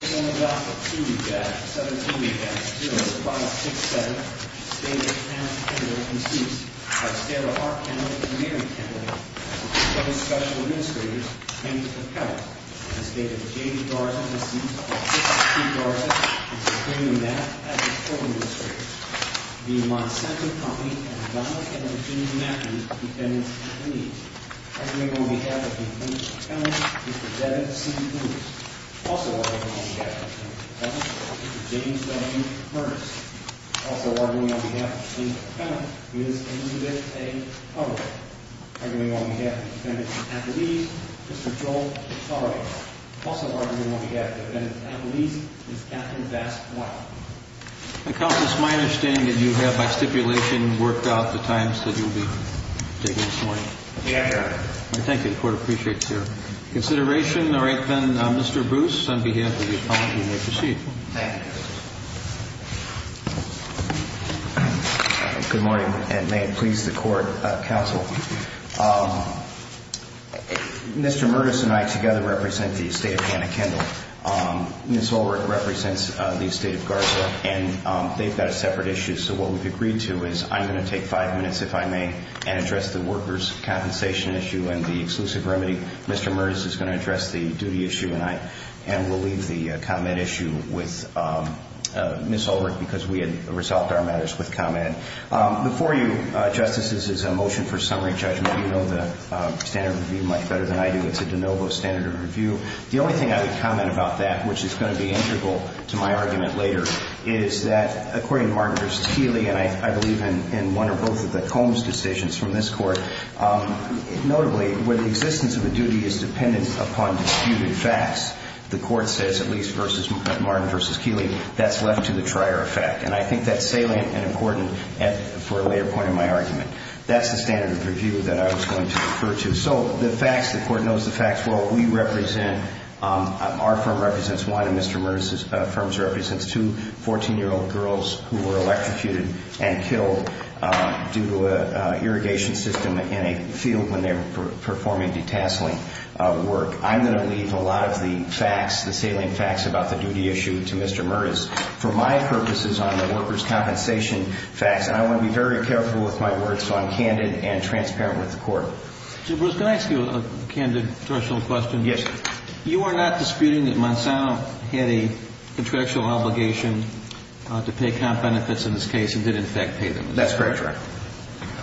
This is an opportunity that 17-Has 0-5-6-7 to stay in the camp of Kendall, can be used by several Arkansas community candidates, and several special administrators, and to protect, the state of Kendall. I'm going to take five minutes if I may, and address the workers compensation issue and the exclusive remedy. Mr. Merz is going to address the duty issue, and we'll leave the comment issue with Ms. Holt, because we had resolved our matters with the comment. Before you, justices, this is a motion for summary judgment. You know the standard review much better than I do. It's a de novo standard review. The only thing I would comment about that, which is going to be integral to my argument later, is that according to Martin v. Keeley, and I believe in one or both of the Combs decisions from this court, notably, when the existence of a duty is dependent upon disputed facts, the court says, at least Martin v. Keeley, that's left to the trier effect. And I think that's salient and important for a later point in my argument. That's the standard review that I was going to refer to. So the facts, the court knows the facts. What we represent, our firm represents one, and Mr. Merz's firm represents two 14-year-old girls who were electrocuted and killed due to an irrigation system in a field when they were performing de-tasseling work. I'm going to leave a lot of the facts, the salient facts about the duty issue to Mr. Merz. For my purposes on the workers compensation facts, I want to be very careful with my words, so I'm candid and transparent with the court. Can I ask you a candid personal question? Yes. You are not disputing that Monsanto had a contractual obligation to pay comp benefits in this case and did in fact pay them. That's correct.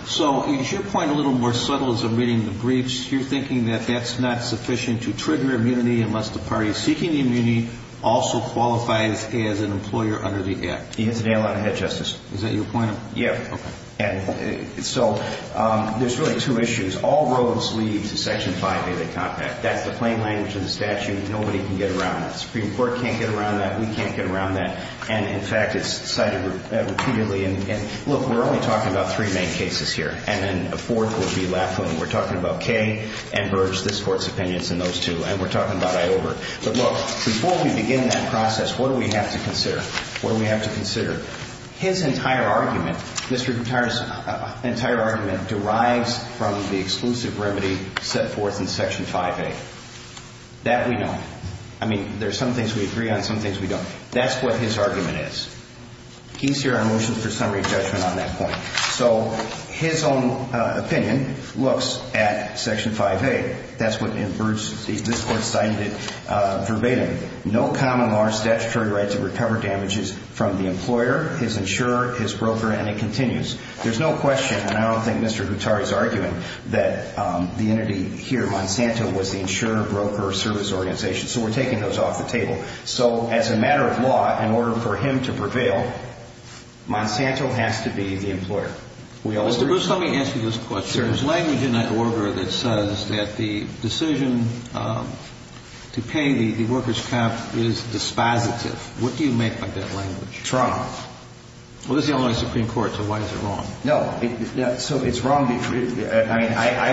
So is your point a little more subtle as to reading the briefs? You're thinking that that's not sufficient to trigger immunity unless the party seeking the immunity also qualifies as an employer under the Act. You hit the nail on the head, Justice. Is that your point? Yes. So there's really two issues. All roads lead to Section 5 of the Compact, that the plain language of the statute nobody can get around. The Supreme Court can't get around that. We can't get around that. And in fact, it's cited repeatedly. And look, we're only talking about three main cases here, and then a fourth will be left when we're talking about Kay and Merz, this Court's opinions in those two, and we're talking about Iover. But look, before we begin that process, what do we have to consider? His entire argument, Mr. Gutierrez's entire argument, derives from the exclusive remedy set forth in Section 5A. That we know. I mean, there's some things we agree on, some things we don't. That's what his argument is. He's here on a wish list of summary judgment on that point. So his own opinion looks at Section 5A. That's what in Merz's case, this Court cited it verbatim. No common law statutory right to recover damages from the employer, his insurer, his broker, and it continues. There's no question, and I don't think Mr. Gutierrez is arguing, that the entity here, Monsanto, was the insurer, broker, or service organization. So we're taking those off the table. So as a matter of law, in order for him to prevail, Monsanto has to be the employer. Let me answer this question. Mr. Gutierrez, why do we get an order that says that the decision to pay the workers' cap is dispositive? What do you make of that language? Well, this is the only Supreme Court, so why is it wrong? No. So it's wrong. I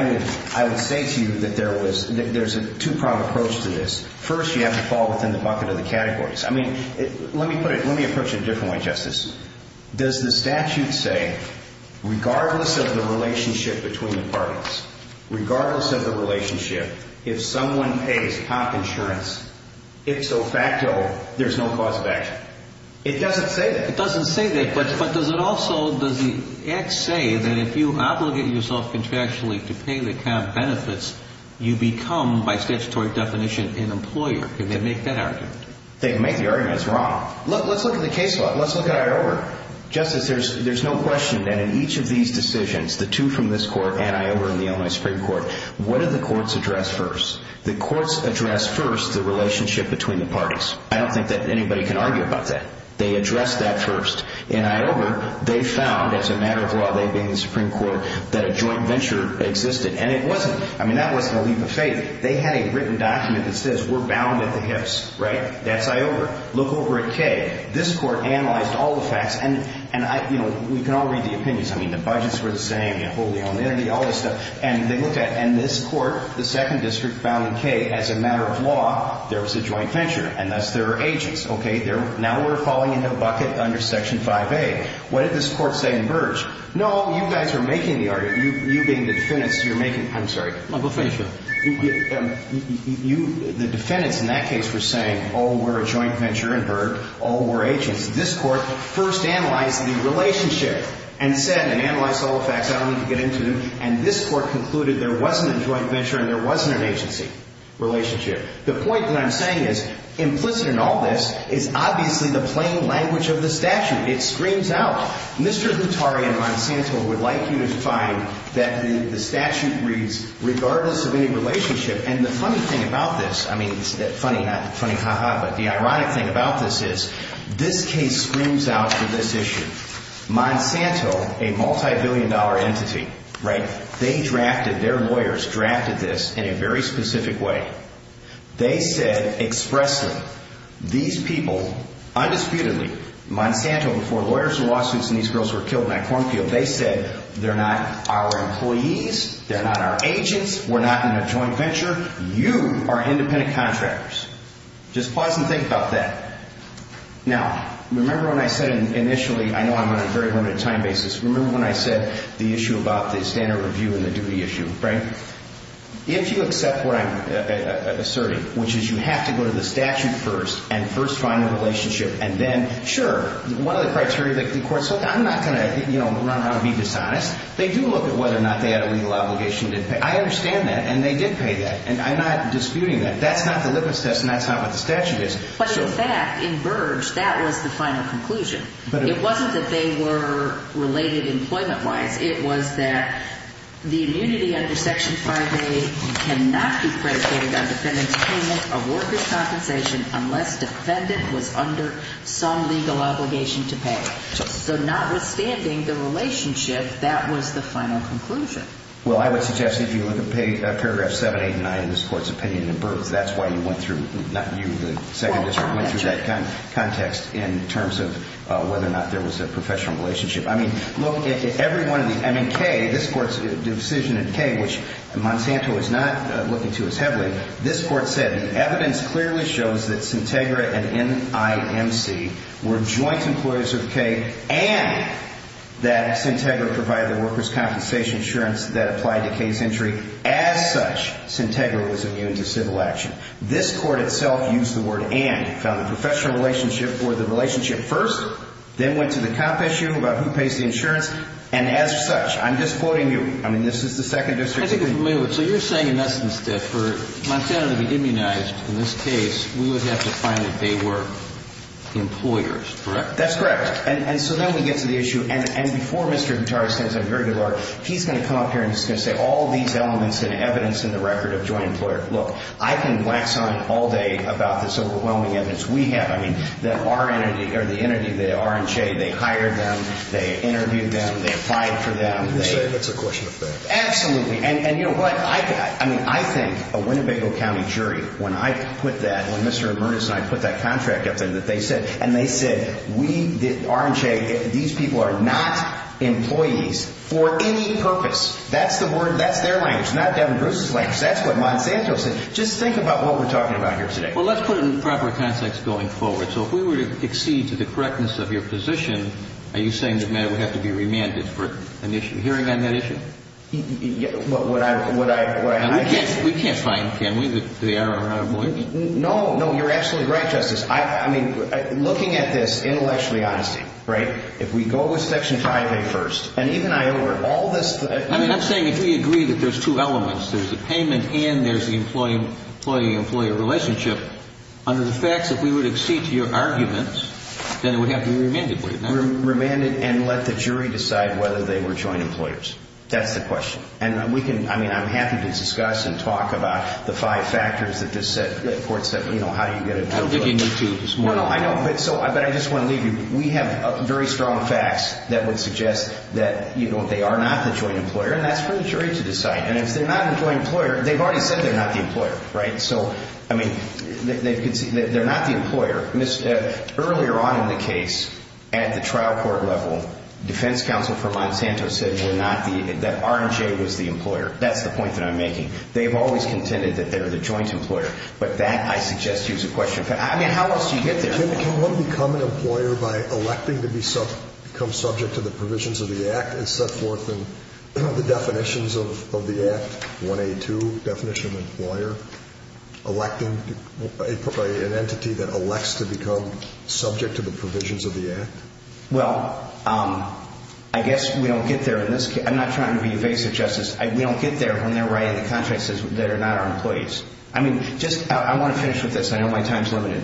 would say to you that there's a two-pronged approach to this. First, you have to fall within the bucket of the categories. I mean, let me approach it a different way, Justice. Does the statute say, regardless of the relationship between the parties, regardless of the relationship, if someone pays cap insurance, it's so facto, there's no cause of action? It doesn't say that. It doesn't say that, but does it also, does the act say that if you obligate yourself contractually to pay the cap benefits, you become, by statutory definition, an employer? Can they make that argument? They've made the argument. It's wrong. Let's look at the case law. Let's look at IOWA. Justice, there's no question that in each of these decisions, the two from this court and IOWA and the Illinois Supreme Court, what do the courts address first? The courts address first the relationship between the parties. I don't think that anybody can argue about that. They address that first. In IOWA, they found, as a matter of law, they did in the Supreme Court, that a joint venture existed. And it wasn't. I mean, that wasn't a leave of faith. They had a written document that says we're bound at the kiss, right? That's IOWA. Look over at Kaye. This court analyzed all the facts. And, you know, we can all read the opinions. I mean, the budgets were the same, the holding on the entity, all this stuff. And they look at it. And this court, the second district, found in Kaye, as a matter of law, there was a joint venture. And that's their agents, okay? Now we're following their bucket under Section 5A. What did this court say in Burge? No, you guys are making the argument. You being the defendants, you're making the argument. I'm sorry. The defendants in that case were saying all were a joint venture in Burge, all were agents. This court first analyzed the relationship. And it said, and analyzed all the facts I don't need to get into, and this court concluded there wasn't a joint venture and there wasn't an agency relationship. The point that I'm saying is implicit in all this is obviously the plain language of the statute. It screams out. Mr. Hattari and Monsanto would like you to find that the statute reads, regardless of any relationship, and the funny thing about this, I mean, funny, not funny, ha-ha, but the ironic thing about this is this case screams out for this issue. Monsanto, a multibillion-dollar entity, right? They drafted, their lawyers drafted this in a very specific way. They said expressly, these people, undisputedly, Monsanto, before lawyers in Washington, these girls were killed by cornfields, they said they're not our employees, they're not our agents, we're not in a joint venture, you are independent contractors. Just pause and think about that. Now, remember when I said initially, I know I'm on a very limited time basis, remember when I said the issue about the standard review and the duty issue, right? If you accept what I've asserted, which is you have to go to the statute first and first find the relationship, and then, sure, one of the criteria that concords, so I'm not going to, you know, I'm not going to be dishonest. They do look at whether or not they had a legal obligation to pay. I understand that, and they did pay that, and I'm not disputing that. That's not the lip assist, and that's not what the statute is. But in fact, in Burge, that was the final conclusion. It wasn't that they were related employment-wise. It was that the immunity under Section 5A cannot be predicated on a defendant's payment or worker's compensation unless the defendant was under some legal obligation to pay. So notwithstanding the relationship, that was the final conclusion. Well, I would suggest if you look at paragraph 789 in this Court's opinion in Burge, that's why you went through, not you, the second district, went through that context in terms of whether or not there was a professional relationship. I mean, look, everyone, I mean, K, this Court's decision in K, which Monsanto is not looking to as heavily, this Court said, the evidence clearly shows that Sintegra and NIMC were joint employers of K and that Sintegra provided the worker's compensation insurance that applied to K's entry. As such, Sintegra was immune to civil action. This Court itself used the word and. It found a professional relationship or the relationship first, then went to the compensation about who pays the insurance, and as such, I'm just quoting you. I mean, this is the second district. So you're saying in essence that for Monsanto to be immunized in this case, we would have to find that they were employers, correct? That's correct. And so then we get to the issue. And before Mr. Guitart spends a very good word, he's going to come up here and he's going to say all these elements that evidence in the record of joint employer. Look, I can wax on all day about this overwhelming evidence we have. I mean, that our energy or the energy there, R&J, they hired them, they interviewed them, they filed for them. It's a question of faith. Absolutely. And you know what? I mean, I think a Winnebago County jury, when I put that, when Mr. Ambrose and I put that contract up, and they said we, R&J, these people are not employees for any purpose. That's the word. That's their language. Not Devin Ambrose's language. That's what Monsanto said. Just think about what we're talking about here today. Well, let's put it in proper context going forward. So if we were to accede to the correctness of your position, are you saying that Matt would have to be remanded for an issue? Hearing on that issue? We can't find him, can we, that they are not employees? No. No, you're absolutely right, Justice. I mean, looking at this intellectually, honestly, right, if we go with Section 501st, and even I over all this. I mean, I'm saying if we agree that there's two elements, there's the payment and there's the employee-employee-employee relationship, under the fact that we would accede to your arguments, then we have to be remanded, right? Remanded and let the jury decide whether they were joint employers. That's the question. And we can, I mean, I'm happy to discuss and talk about the five factors that this court said, you know, how you get a choice. I'm looking into this more. No, I know. But I just want to leave you. We have very strong facts that would suggest that, you know, they are not the joint employer, and that's for the jury to decide. And if they're not a joint employer, they've already said they're not the employer, right? So, I mean, they're not the employer. Earlier on in the case, at the trial court level, defense counsel from Monsanto said that R&J was the employer. That's the point that I'm making. They've always contended that they're the joint employer. But that, I suggest, is a question. I mean, how else do you get there? Can one become an employer by electing to become subject to the provisions of the Act and so forth, and what are the definitions of the Act? 182, definition of employer, electing an entity that elects to become subject to the provisions of the Act? Well, I guess we don't get there in this case. I'm not trying to be evasive, Justice. We don't get there when they're writing a contract that says they're not our employees. I mean, just, I want to finish with this. I know my time is limited.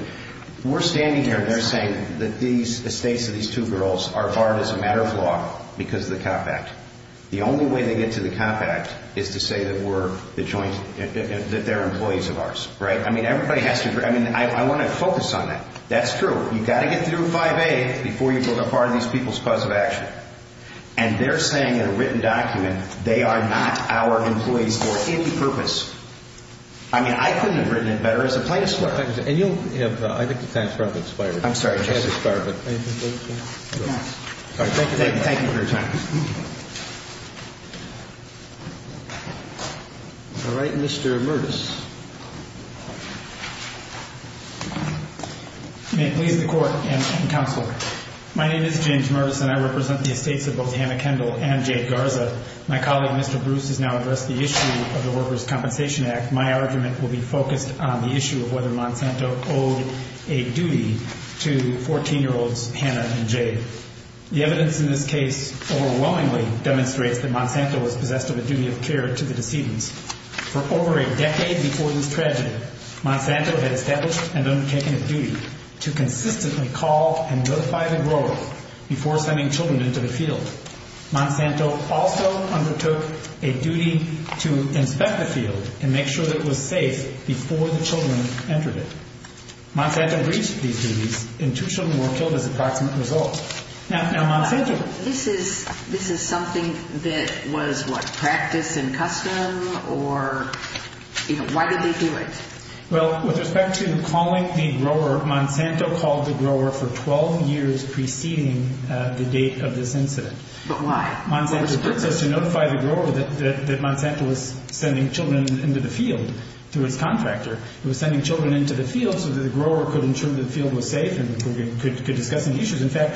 We're standing here and they're saying that these, the states of these two girls are barred as a matter of law because of the Comp Act. The only way to get to the Comp Act is to say that we're the joint, that they're employees of ours. Right? I mean, everybody has to, I mean, I want to focus on that. That's true. You've got to get through 5A before you build up part of these people's cause of action. And they're saying in a written document they are not our employees for any purpose. I mean, I couldn't have written it better. And you'll have the, I get the time. I'm sorry. Mr. Mervis. My name is James Mervis and I represent the estate of both Hannah Kendall and Jay Garza. My colleague, Mr. Bruce, has now addressed the issue of the Workers' Compensation Act. My argument will be focused on the issue of whether Monsanto owes a duty to 14-year-olds Hannah and Jay. The evidence in this case overwhelmingly demonstrates that Monsanto is possessed of a duty of care to the decedents. For over a decade before this tragedy, Monsanto has established and undertaken a duty to consistently call and notify the growers before sending children into the field. Monsanto also undertook a duty to inspect the field and make sure that it was safe before the children entered it. Monsanto reached the duty and two children were killed as a result. Now, Monsanto... This is, this is something that was, what, practice and custom or, you know, why did they do it? Well, with respect to calling the grower, Monsanto called the grower for 12 years preceding the date of this incident. Why? Monsanto's purpose was to notify the grower that Monsanto was sending children into the field through its contractor. It was sending children into the field so that the grower could ensure that the field was safe and could discuss any issues. In fact,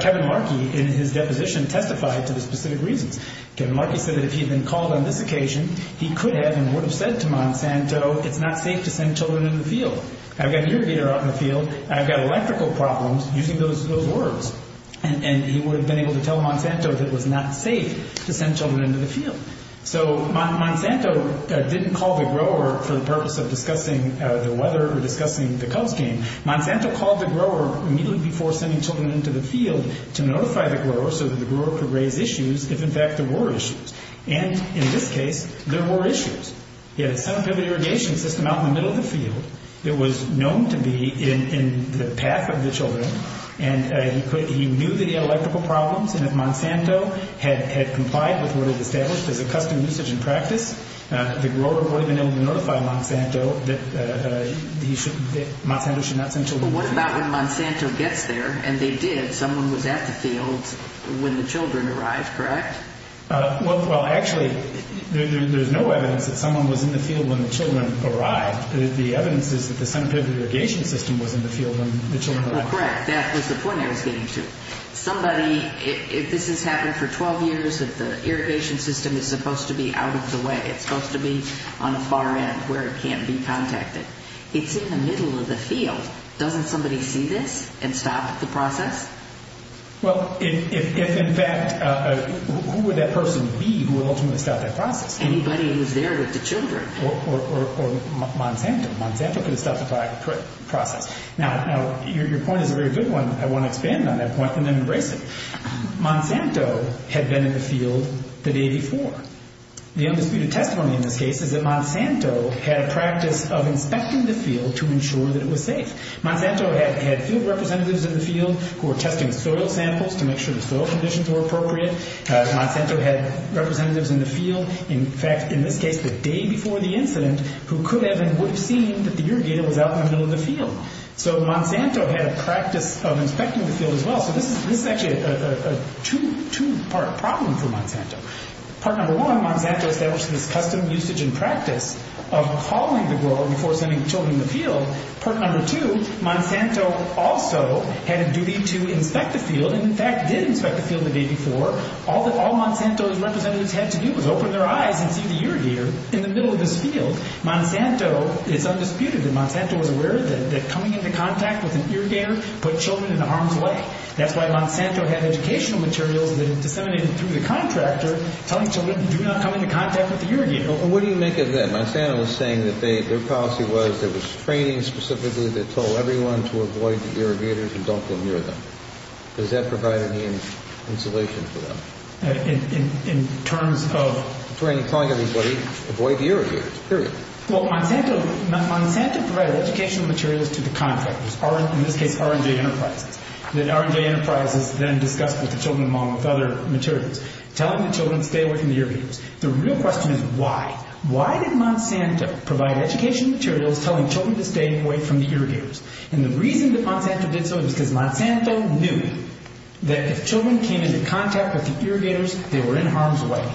Kevin Markey, in his deposition, testified to the specific reason. Kevin Markey said that if he had been called on this occasion, he could have and would have said to Monsanto, it's not safe to send children into the field. I've got deer deer out in the field and I've got electrical problems using those words. And he would have been able to tell Monsanto that it was not safe to send children into the field. So Monsanto didn't call the grower for the purpose of discussing the weather or discussing the cult game. Monsanto called the grower immediately before sending children into the field to notify the grower so that the grower could raise issues if, in fact, there were issues. And in this case, there were issues. He had a sub-heavy irrigation system out in the middle of the field that was known to be in the path of the children. And he knew that he had electrical problems and that Monsanto had complied with what was established as a custom usage and practice. The grower would have been able to notify Monsanto that Monsanto should not send children into the field. Well, what about when Monsanto gets there, and they did, someone was at the field when the children arrived, correct? Well, actually, there's no evidence that someone was in the field when the children arrived. The evidence is that the sub-heavy irrigation system was in the field when the children arrived. Correct. That was the point I was getting to. Somebody, if this has happened for 12 years, the irrigation system is supposed to be out of the way. It's supposed to be on the far end where it can't be contacted. It's in the middle of the field. Doesn't somebody see this and stop the process? Well, in fact, who would that person be who ultimately stopped that process? Anybody who was there with the children. Or Monsanto. Monsanto could stop the process. Now, your point is a very good one. I want to expand on that point and then erase it. Monsanto had been in the field the day before. The undisputed testimony in this case is that Monsanto had a practice of infecting the field to ensure that it was safe. Monsanto had field representatives in the field who were testing soil samples to make sure the soil conditions were appropriate. Monsanto had representatives in the field, in fact, in this case the day before the incident, who could have and would have seen that the irrigation was out in the middle of the field. So Monsanto had a practice of infecting the field as well. Part number one, Monsanto established this custom, usage, and practice of following the girl and forcing the children in the field. Part number two, Monsanto also had a duty to infect the field and, in fact, did infect the field the day before. All Monsanto's representatives had to do was open their eyes and see that you're here in the middle of this field. Monsanto is undisputed. Monsanto was aware that coming into contact with an irrigator put children in harm's way. That's why Monsanto had educational materials that are disseminated through the contractor telling children, do not come into contact with the irrigator. But what do you make of that? Monsanto was saying that their policy was there was training specifically that told everyone to avoid the irrigator if you don't want to hear them. Does that provide any insulation for them? In terms of? In terms of telling everybody, avoid the irrigator. Period. Well, Monsanto provided educational materials to the contractors. R&J Enterprise. The R&J Enterprise was then discussed with the children among other materials. Telling the children to stay away from the irrigators. The real question is why. Why did Monsanto provide educational materials telling children to stay away from the irrigators? And the reason that Monsanto did so is because Monsanto knew that if children came into contact with the irrigators, they were in harm's way.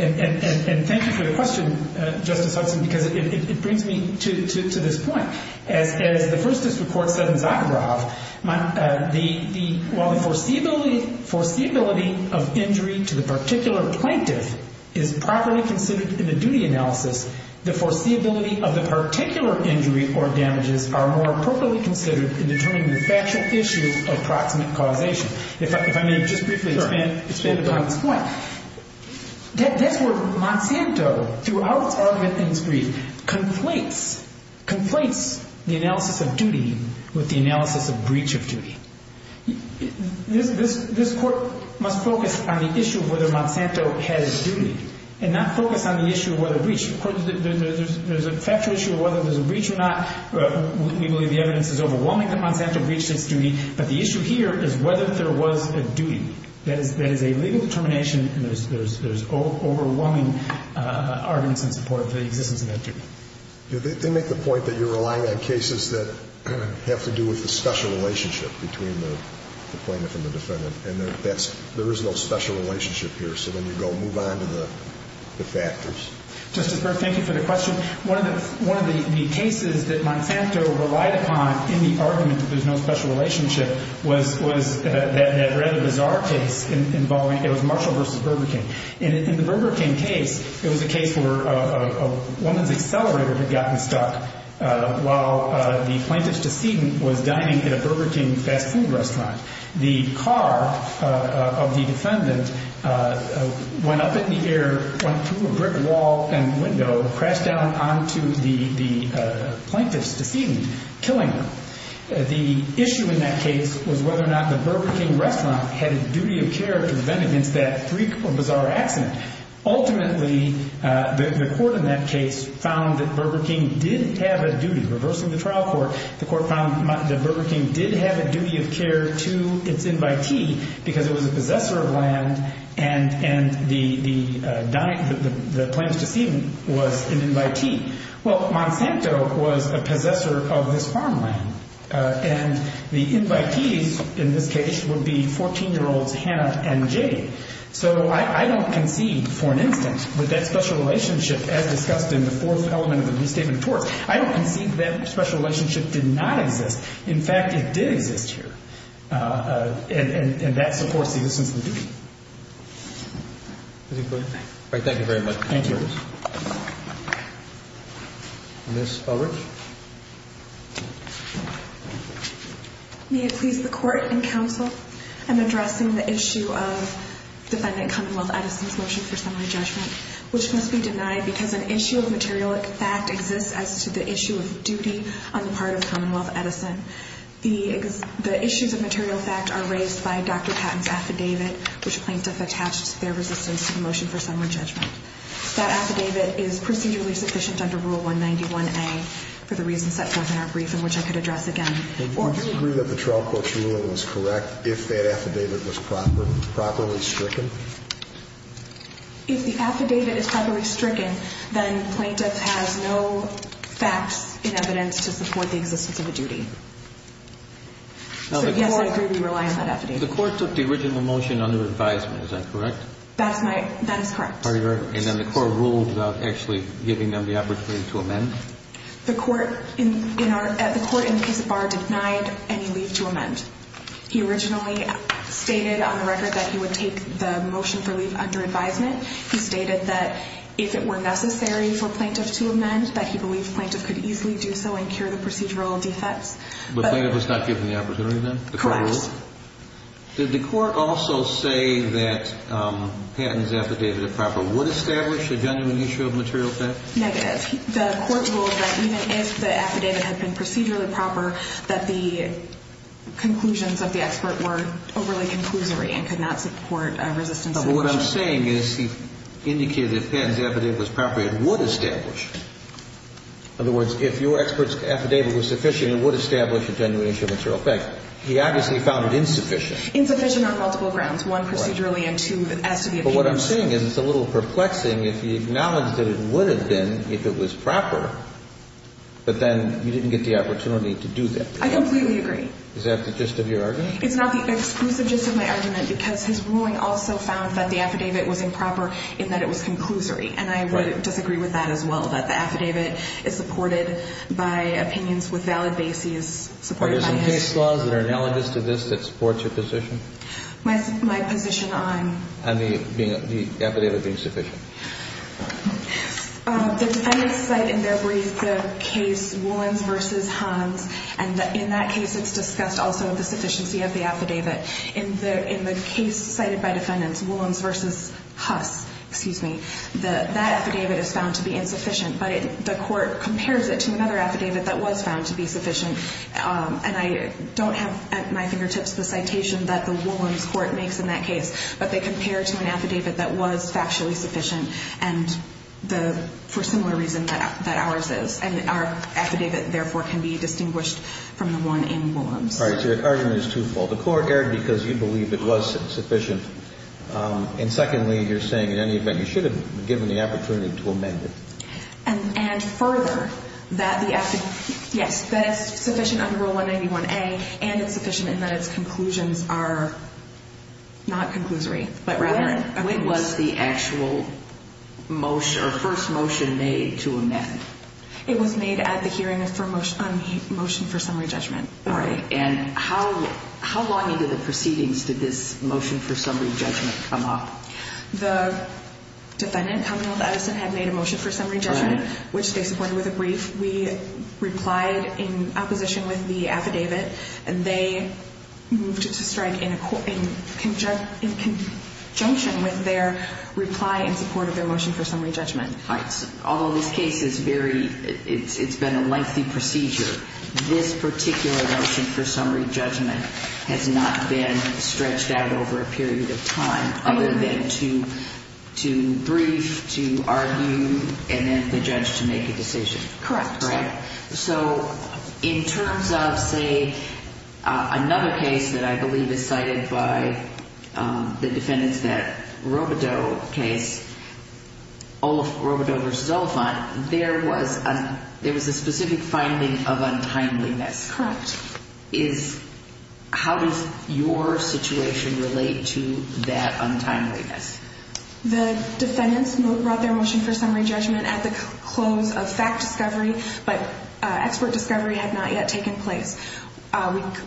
And thank you for your question, Justice Hudson, because it brings me to this point. First, this report doesn't backdrop. While the foreseeability of injuries to the particular plaintiff is properly considered in the duty analysis, the foreseeability of the particular injury or damages are more properly considered in determining the statute issues of proximate correlation. If I can come in just briefly. Sure. What? Therefore, Monsanto, throughout all of his injuries, complains, complains the analysis of duty with the analysis of breach of duty. This court must focus on the issue of whether Monsanto has duty and not focus on the issue of whether breach. Of course, there's a factual issue of whether there's a breach or not. We believe the evidence is overwhelming that Monsanto breached his duty. But the issue here is whether there was a duty. That is a legal determination. There's overwhelming arguments in support of the existence of that duty. You make the point that you're relying on cases that have to do with the special relationship between the plaintiff and the defendant. And there is no special relationship here. So then you go move on to the factors. Justice Breyer, thank you for the question. One of the cases that Monsanto relied upon in the argument that there's no special relationship was that rather bizarre case involving Marshall v. Burger King. In the Burger King case, it was a case where one of the accelerators had gotten stuck while the plaintiff's decedent was dining at a Burger King fast food restaurant. The car of the defendant went up in the air, went through a brick wall and window, crashed down onto the plaintiff's decedent, killing them. The issue in that case was whether or not the Burger King restaurant had a duty of care to defend against that freak or bizarre accident. Ultimately, the court in that case found that Burger King did have a duty. Reversing the trial court, the court found that Burger King did have a duty of care to its invitee because it was a possessor of land and the plaintiff's decedent was an invitee. Well, Monsanto was a possessor of his farm land. And the invitees in this case would be 14-year-olds Hannah and Jade. So I don't concede, for an instance, that that special relationship as discussed in the fourth element of the new statement of the court, I don't concede that special relationship did not exist. In fact, it did exist. And that's, of course, the essence of the case. All right. Thank you very much. Thank you. Ms. Pollard? May it please the court and counsel, in addressing the issue of defendant Commonwealth Edison's motion for summary judgment, which must be denied because an issue of material fact exists as to the issue of duty on the part of Commonwealth Edison. The issues of material fact are raised by Dr. Patton's affidavit, which plaintiffs have hatched their resistance to the motion for summary judgment. That affidavit is prudently sufficient under Rule 191A for the reasons that come in our brief, and which I could address again. Would you agree that the trial court's ruling was correct if that affidavit was properly stricken? If the affidavit is properly stricken, then the plaintiff has no fact in evidence to support the existence of a duty. So, yes, I agree we rely on that affidavit. The court took the original motion under advisement. Is that correct? That is correct. And then the court ruled without actually giving them the opportunity to amend? The court in our case bar denied any leave to amend. He originally stated on the record that he would take the motion for leave under advisement. He stated that if it were necessary for plaintiffs to amend, that he believed plaintiffs could easily do so and cure the procedural defect. But the plaintiff was not given the opportunity then? Correct. Does the court also say that Patton's affidavit, if proper, would establish a genuine issue of material effect? Negative. The court ruled that even if the affidavit had been procedurally proper, that the conclusions of the expert were overly conclusory and could not support a resistance of the motion. What I'm saying is he indicated that Patton's affidavit was proper and would establish. In other words, if your expert's affidavit was sufficient, it would establish a genuine issue of material effect. He obviously found it insufficient. Insufficient on multiple grounds. One, procedurally, and two, that it had to be a genuine issue. But what I'm saying is it's a little perplexing if you acknowledge that it would have been if it was proper, but then you didn't get the opportunity to do that. I completely agree. Is that the gist of your argument? It's not the gist of my argument because his ruling also found that the affidavit was improper in that it was conclusory. And I would disagree with that as well, that the affidavit is supported by opinions with valid bases. Are there some case files that are analogous to this that support your position? My position on... And the affidavit being sufficient. The defendant's side endeavor is the case Woolens v. Hunt, and in that case it's discussed also the sufficiency of the affidavit. In the case cited by the defendant, Woolens v. Hunt, that affidavit is found to be insufficient, but the court compares it to another affidavit that was found to be sufficient. And I don't have at my fingertips the citation that the Woolens court makes in that case, but they compare it to an affidavit that was factually sufficient and for similar reasons that ours is. And our affidavit, therefore, can be distinguished from the one in Woolens. All right. So the argument is truthful. The court erred because you believe it wasn't sufficient. And secondly, you're saying, in any event, you should have given the opportunity to amend it. And further, that the affidavit, yes, that it's sufficient under Rule 191A and it's sufficient in that its conclusions are not conclusory, but rather... When was the actual first motion made to amend? It was made at the hearing for motion for summary judgment. All right. And how long into the proceedings did this motion for summary judgment come up? The defendant, Thomas Edison, had made a motion for summary judgment, which they supported with a brief. We replied in opposition with the affidavit, and they moved to strike in conjunction with their reply in support of their motion for summary judgment. All right. Although this case is very, it's been a lengthy procedure, this particular motion for summary judgment has not been stretched out over a period of time other than to brief, to argue, and then to judge to make a decision. Correct. Right. So in terms of, say, another case that I believe is cited by the defendants, that Robodeaux case, Olaf Robodeaux v. Oliphant, there was a specific finding of untimely next. Correct. How does your situation relate to that untimely next? The defendants brought their motion for summary judgment at the close of fact discovery, but expert discovery had not yet taken place.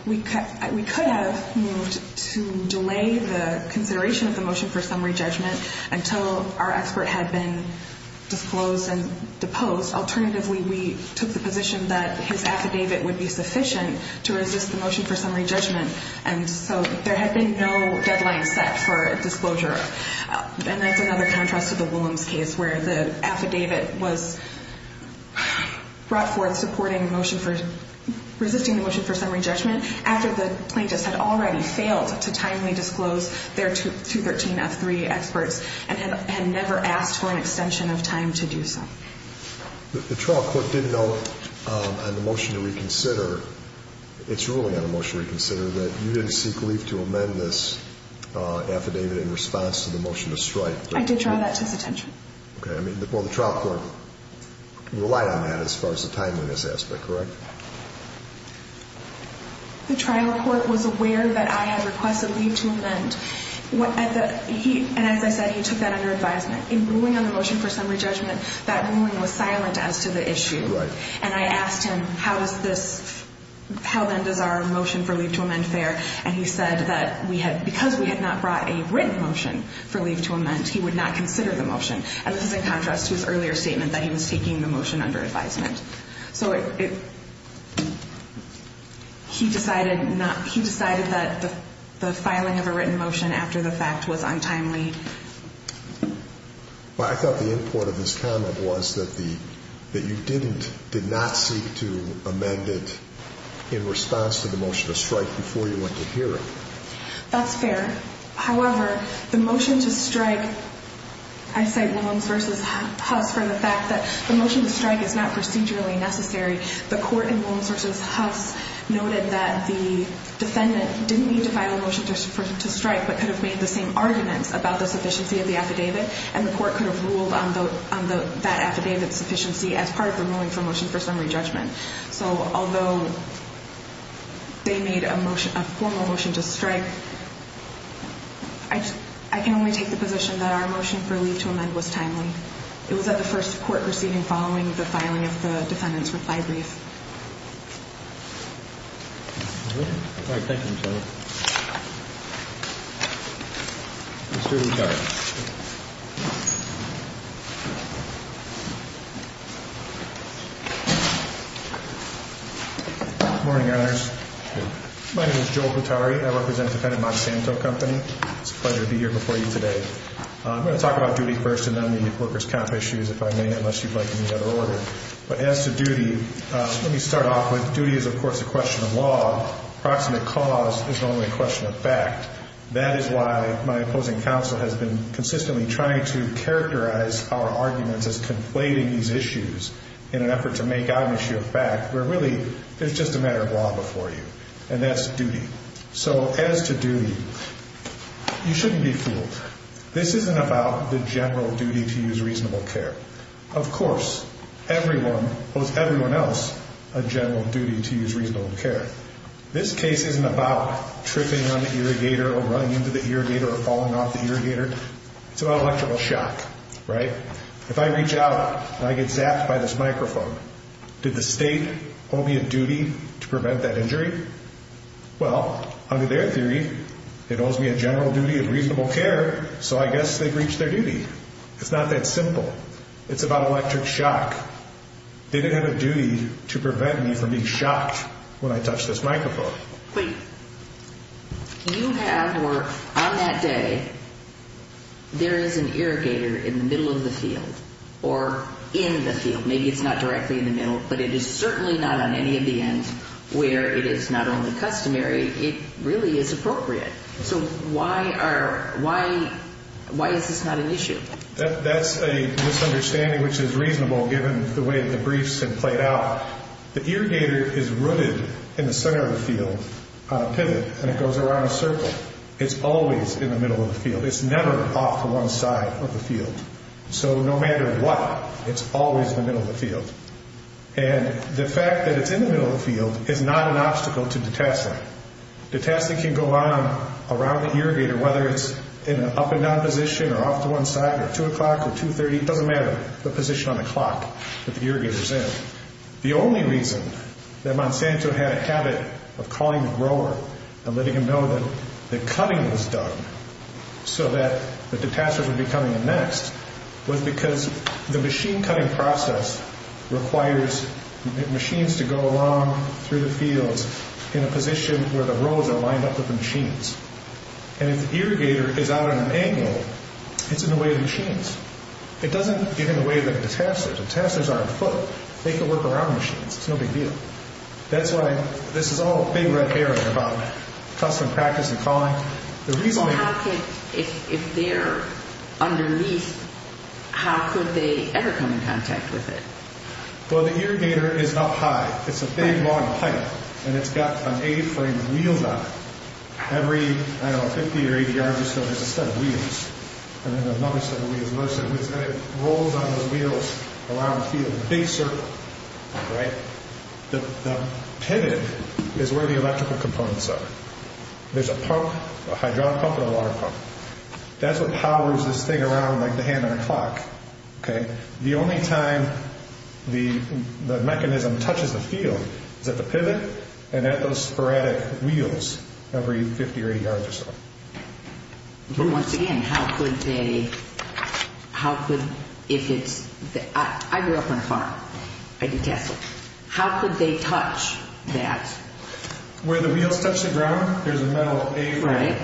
We could have moved to delay the consideration of the motion for summary judgment until our expert had been disclosed and deposed. Alternatively, we took the position that his affidavit would be sufficient to resist the motion for summary judgment, and so there had been no deadline set for a disclosure. And that's another contrast to the Williams case, where the affidavit was brought forth resisting the motion for summary judgment after the plaintiffs had already failed to timely disclose their 213F3 experts and had never asked for an extension of time to do so. The trial court did note on the motion to reconsider, it's ruling on the motion to reconsider, that you didn't seek leave to amend this affidavit in response to the motion to strike. I did draw that to his attention. Well, the trial court relied on that as far as the timeliness aspect, correct? The trial court was aware that I had requested leave to amend. He said that he took that under advisement. In ruling on the motion for summary judgment, that ruling was silent as to the issue. And I asked him, how then does our motion for leave to amend fare? And he said that because we had not brought a written motion for leave to amend, he would not consider the motion. And this is in contrast to his earlier statement that he was taking the motion under advisement. So he decided that the filing of a written motion after the fact was untimely. I thought the import of his comment was that you did not seek to amend it in response to the motion to strike before you went to hear it. That's fair. However, the motion to strike, I cite Williams v. Huff for the fact that the motion to strike is not procedurally necessary. The court in Williams v. Huff noted that the defendant didn't need to file a motion just to strike but could have made the same argument about the proficiency of the affidavit, and the court could have ruled on that affidavit proficiency as part of the motion for summary judgment. So although they made a formal motion to strike, I can only take the position that our motion for leave to amend was timely. It was at the first court proceeding following the filing of the defendant's reply brief. Good morning, guys. My name is Joe Cotari. I represent the Kennedy Monsanto Company. It's a pleasure to be here before you today. I'm going to talk about duty first and then maybe corpus cop issues if I may, unless you'd like me to go over. But as to duty, let me start off with duty is, of course, a question of law. Proximate cause is only a question of fact. That is why my opposing counsel has been consistently trying to characterize our argument as conflating these issues in an effort to make out an issue of fact, where really it's just a matter of law before you, and that's duty. So as to duty, you shouldn't be fooled. This isn't about the general duty to use reasonable care. Of course, everyone owes everyone else a general duty to use reasonable care. This case isn't about tripping on the irrigator or running into the irrigator or falling off the irrigator. It's about electrical shock, right? If I reach out and I get zapped by this microphone, did the state owe me a duty to prevent that injury? Well, under their theory, it owes me a general duty of reasonable care, so I guess they've reached their duty. It's not that simple. It's about electric shock. They didn't have a duty to prevent me from being shocked when I touched this microphone. Wait. You have, or on that day, there is an irrigator in the middle of the field or in the field. Maybe it's not directly in the middle, but it is certainly not on any of the ends where it is not only customary. It really is appropriate. So why is this not an issue? That's a misunderstanding which is reasonable given the way the briefs have played out. The irrigator is rooted in the center of the field, pivoted, and it goes around in a circle. It's always in the middle of the field. It's never off one side of the field. So no matter what, it's always in the middle of the field. And the fact that it's in the middle of the field is not an obstacle to detesting. Detesting can go on around the irrigator, whether it's in an up and down position or off to one side at 2 o'clock or 2.30, doesn't matter. It's a position on the clock that the irrigator is in. The only reason that Monsanto had a habit of calling the grower and letting him know that cutting was done so that the detesters would be coming next was because the machine cutting process requires machines to go along through the field in a position where the rows are lined up with the machines. And if the irrigator is out at an angle, it's in the way of the machines. It doesn't get in the way of the detesters. The detesters are on foot. They can work around the machines. It's no big deal. That's why this is all a big red herring about custom practice and calling. The reason they... If they're underneath, how could they ever come in contact with it? Well, the irrigator is up high. It's a big long pipe, and it's got an A-frame wheel on it. Every, I don't know, 50 or 80 yards or so, there's a set of wheels. And then there's another set of wheels. It rolls on those wheels around the field in a big circle. The pivot is where the electrical components are. There's a pump, a hydraulic pump and a water pump. That's what follows this thing around like the hand on a clock. The only time the mechanism touches the field is at the pivot and at those sporadic wheels every 50 or 80 yards or so. Once again, how could they... How could... I grew up on a farm. How could they touch that? Where the wheels touch the ground, there's a metal A-frame.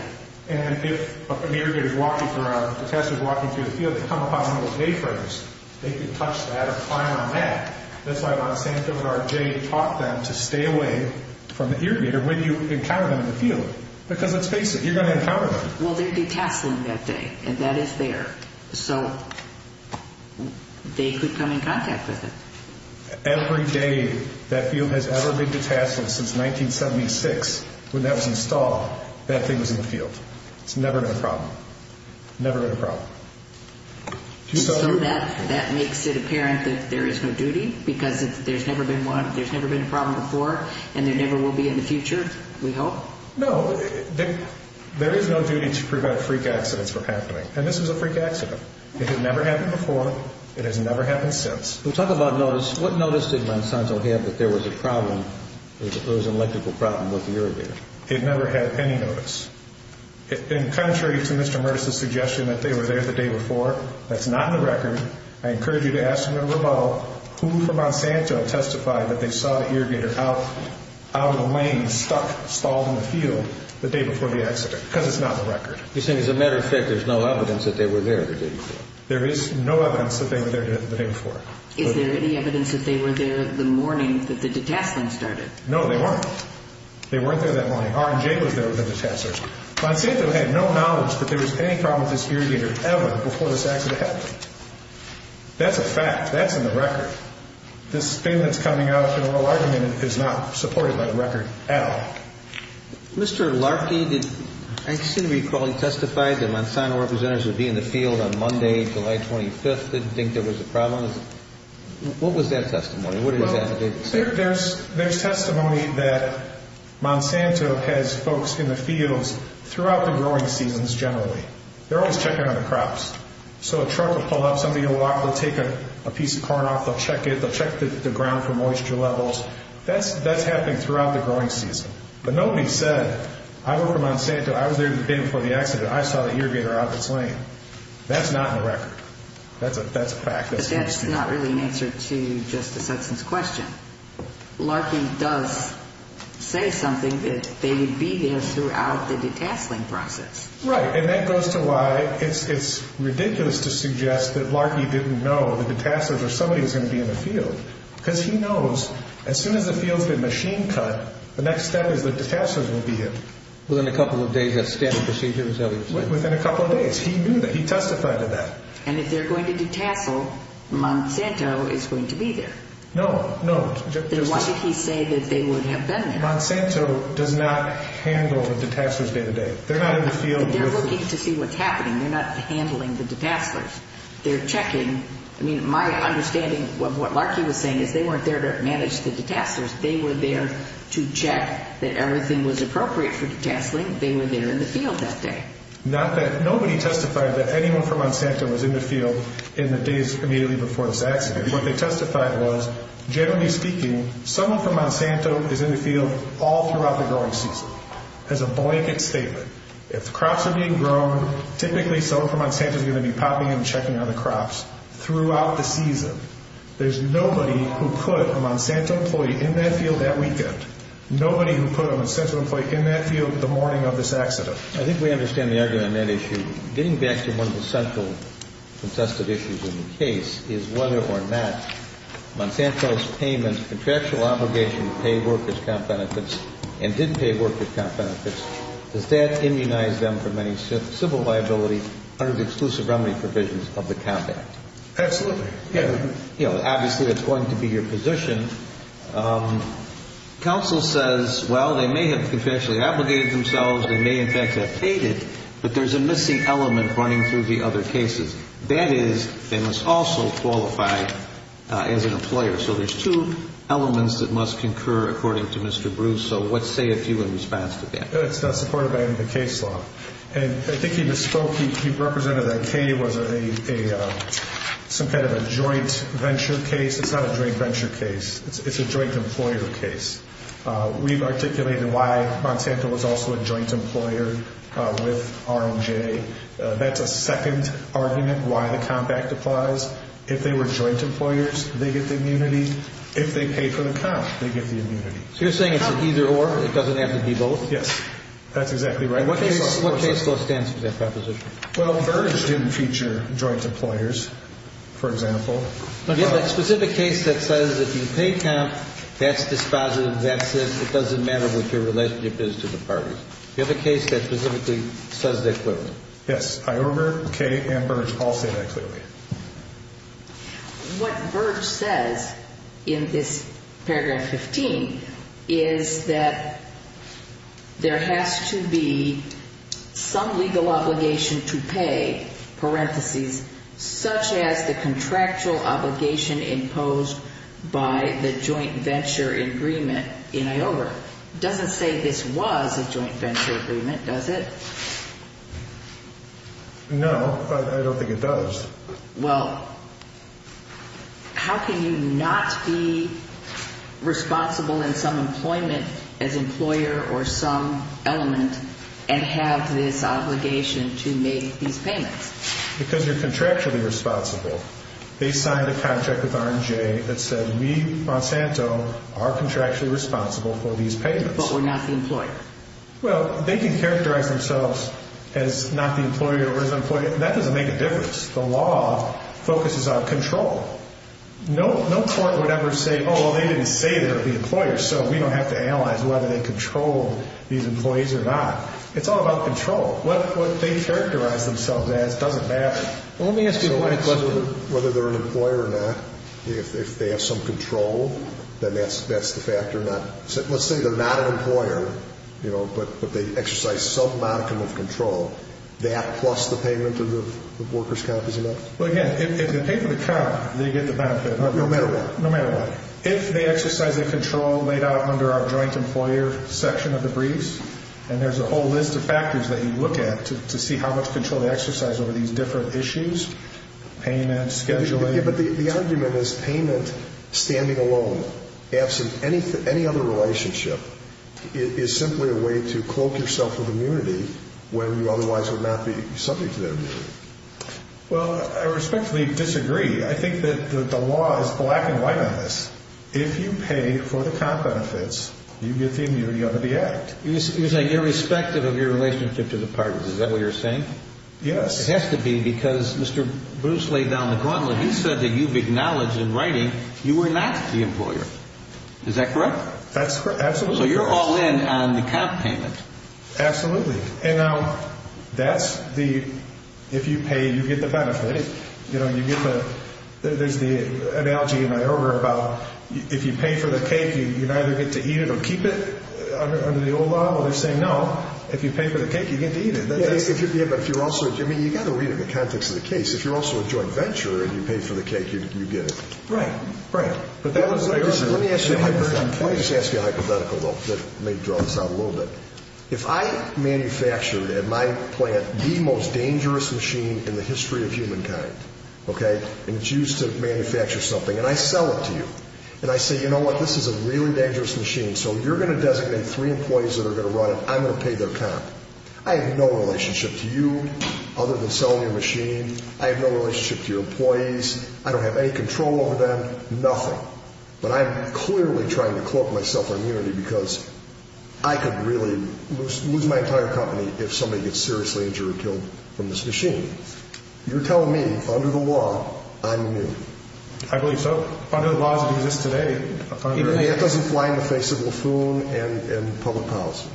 And if an irrigator is walking around, a protestant is walking through the field, they come upon those A-frames. They can touch that and climb on that. That's why the Sanctuary of R.J. taught them to stay away from the irrigator when you encounter them in the field because it's dangerous. You're going to encounter them. Well, they're detached from that thing, and that is there. So they could come in contact with it. Every day that field has ever been detached from since 1976, when that was installed, that thing was in the field. It's never been a problem. Never been a problem. So that makes it apparent that there is no duty because there's never been a problem before and there never will be in the future, we hope? No. There is no duty to prevent freak accidents from happening, and this is a freak accident. It has never happened before. It has never happened since. We talk about notice. What notice did Monsanto give that there was a problem, that there was an electrical problem with the irrigator? It never had any notice. In contrary to Mr. Mertz's suggestion that they were there the day before, that's not on the record. I encourage you to ask them about who from Monsanto testified that they saw an irrigator out of the lane, stuck, spalled in the field the day before the accident because it's not on the record. You're saying, as a matter of fact, there's no evidence that they were there the day before. There is no evidence that they were there the day before. Is there any evidence that they were there the morning that the detachment started? No, they weren't. They weren't there that morning. R&J was there at the detachment. Monsanto had no knowledge that there was any problem with this irrigator, ever, before this accident happened. That's a fact. That's on the record. This statement that's coming out of the oral argument is not supported by the record at all. Mr. Larkin, I understand you're calling testified that Monsanto representatives would be in the field on Monday, July 25th, didn't think there was a problem. What was that testimony? There's testimony that Monsanto has folks in the fields throughout the growing seasons, generally. They're always checking on the crops. So a truck will pull up, somebody will walk, they'll take a piece of corn off, they'll check it, they'll check the ground for moisture levels. That's happened throughout the growing season. But nobody said, I'm over at Monsanto, I was there the day before the accident, I saw the irrigator out of the plane. That's not on the record. That's a fact. But that's not really an answer to Justice Hudson's question. Larkin does say something that they would be there throughout the detasting process. Right, and that goes to why it's ridiculous to suggest that Larkin didn't know the detasters or somebody was going to be in the field, because he knows as soon as the field's been machine cut, the next step is the detasters will be in. Within a couple of days, he knew that. He testified to that. And if they're going to detasto, Monsanto is going to be there. No, no. Then why did he say that they would have been there? Monsanto does not handle the detasters day to day. They're not in the field. They're looking to see what's happening. They're not handling the detasters. They're checking. My understanding of what Larkin was saying is they weren't there to manage the detasters. They were there to check that everything was appropriate for detasting. They were there in the field that day. Nobody testified that anyone from Monsanto was in the field in the days immediately before this accident. What they testified was, generally speaking, someone from Monsanto is in the field all throughout the growing season, as a blanket statement. If crops are being grown, typically someone from Monsanto is going to be popping and checking on the crops throughout this season. There's nobody who could, a Monsanto employee, in that field that weekend. Nobody who could, a Monsanto employee, in that field the morning of this accident. I think we understand the argument on that issue. Getting back to one of the central, contested issues in the case, is whether or not Monsanto's payments, contractual obligations to pay workers' comp benefits and didn't pay workers' comp benefits, does that immunize them from any civil liability under the exclusive only provisions of the compact? Absolutely. Obviously, it's going to be your position. Counsel says, well, they may have officially obligated themselves, they may in fact have paid it, but there's a missing element running through the other cases. That is, they must also qualify as an employer. So there's two elements that must concur according to Mr. Bruce. So what say it's you in response to that? It's supported by the case law. And I think you spoke, you represented that Kay was in some kind of a joint venture case. It's not a joint venture case. It's a joint employer case. We've articulated why Monsanto was also a joint employer with R&J. That's a second argument why the compact applies. If they were joint employers, they get the immunity. If they paid for the comp, they get the immunity. So you're saying it's an either-or, it doesn't have to be both? Yes, that's exactly right. What case law stands for that proposition? Well, Burge didn't feature joint employers, for example. You have a specific case that says if you pay comp, that's dispositive, that's this, it doesn't matter what your relationship is to the party. You have a case that specifically says that clearly. Yes, either-or, Kay and Burge all said that clearly. What Burge says in this paragraph 15 is that there has to be some legal obligation to pay, parentheses, such as the contractual obligation imposed by the joint venture agreement in IOR. It doesn't say this was a joint venture agreement, does it? No, but I don't think it does. Well, how can you not be responsible in some employment as employer or some element and have this obligation to make these payments? Because you're contractually responsible. They signed a contract with R&J that said we, Monsanto, are contractually responsible for these payments. But we're not the employer. Well, they can characterize themselves as not the employer or as an employer. That doesn't make a difference. The law focuses on control. No court would ever say, oh, well, they didn't say they're the employer, so we don't have to analyze whether they control these employees or not. It's all about control. What they characterize themselves as doesn't matter. Well, let me ask you a question. Whether they're an employer or not, if they have some control, then that's the factor or not. Let's say they're not an employer, you know, but they exercise self-management control. That plus the payment of the workers' cap is enough? Well, again, if you're taking the cap, they get the benefit. No matter what. No matter what. If they exercise the control laid out under our joint employer section of the briefs, and there's a whole list of factors that you look at to see how much control they exercise over these different issues, payments, scheduling. But the idea of this payment standing alone, absent any other relationship, is simply a way to close yourself of immunity when you otherwise would not be subject to that measure. Well, I respectfully disagree. I think that the law is black and white on this. If you pay for the cap benefits, you get the immunity under the Act. You're saying irrespective of your relationship to the partners. Is that what you're saying? Yes. It has to be because Mr. Bruce laid down the gauntlet. He said that you've acknowledged in writing you were not the employer. Is that correct? That's correct. Absolutely correct. So you're all in on the cap payment. Absolutely. Now, that's the, if you pay, you get the benefit. You know, you get the, there's the analogy that I heard about if you pay for the cake, you either get to eat it or keep it under the old law. Well, they say no. If you pay for the cake, you get to eat it. Yeah, but if you're also, I mean, you've got to read it in the context of the case. If you're also a joint venture and you pay for the cake, you get it. Right. Right. Let me ask you a hypothetical, though, to maybe draw this out a little bit. If I manufactured at my plant the most dangerous machine in the history of humankind, okay, and it's used to manufacture something, and I sell it to you, and I say, you know what, this is a really dangerous machine, so you're going to designate three employees that are going to run it. I'm going to pay the account. I have no relationship to you other than selling the machine. I have no relationship to your employees. I don't have any control over them, nothing. But I'm clearly trying to claw myself immunity because I could really lose my entire company if somebody gets seriously injured or killed from this machine. You're telling me, under the law, I'm immune. I believe so. Under the laws that exist today. Even if it doesn't fly in the face of a plume and public policy.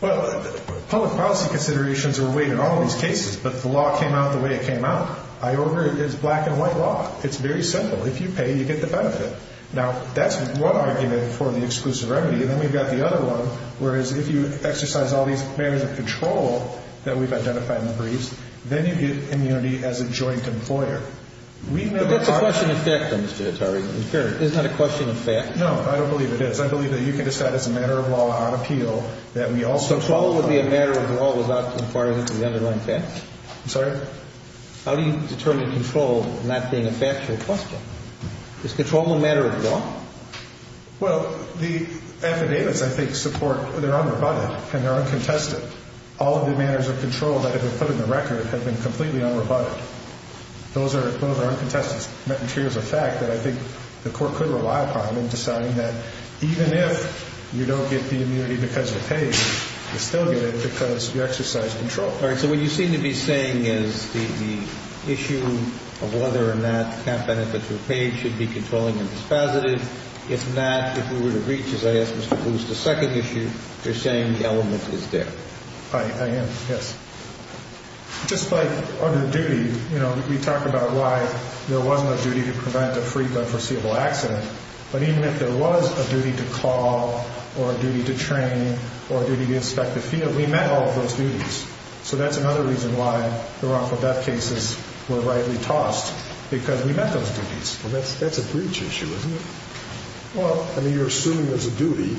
Well, public policy considerations are weighed in all those cases, but the law came out the way it came out. I order it as black and white law. It's very simple. If you pay, you get the benefit. Now, that's one argument for the exclusive remedy, and then you've got the other one, whereas if you exercise all these commands of control that we've identified in the briefs, then you get immunity as a joint employer. What's the question of fact, then, Mr. Atari? Is that a question of fact? No, I don't believe it is. I believe that you can describe it as a matter of law on appeal that we also follow. So control would be a matter of law without conforming to the underlying facts? I'm sorry? How do you determine control and not being a fact or a question? Is control a matter of law? Well, the amicabes that they support, they're unrebutted and they're uncontested. All of the manners of control that have been put in the record have been completely unrebutted. Those are uncontested. That ensures the fact that I think the court could rely upon in deciding that even if you don't get the immunity because you're paid, you still get it because you exercise control. All right. So what you seem to be saying is the issue of whether or not the benefits you're paid should be controlling and dispositive. If not, if we were to reach, as I asked Mr. Booth, the second issue, you're saying the element is there. I am, yes. Just like other duties, you know, you talk about why there wasn't a duty to prevent or free the unforeseeable accident, but even if there was a duty to call or a duty to train or a duty to inspect the field, we met all of those duties. So that's another reason why the Rockefeller cases were rightly tossed, because we met those duties. That's a breach issue, isn't it? Well, I mean, you're assuming there's a duty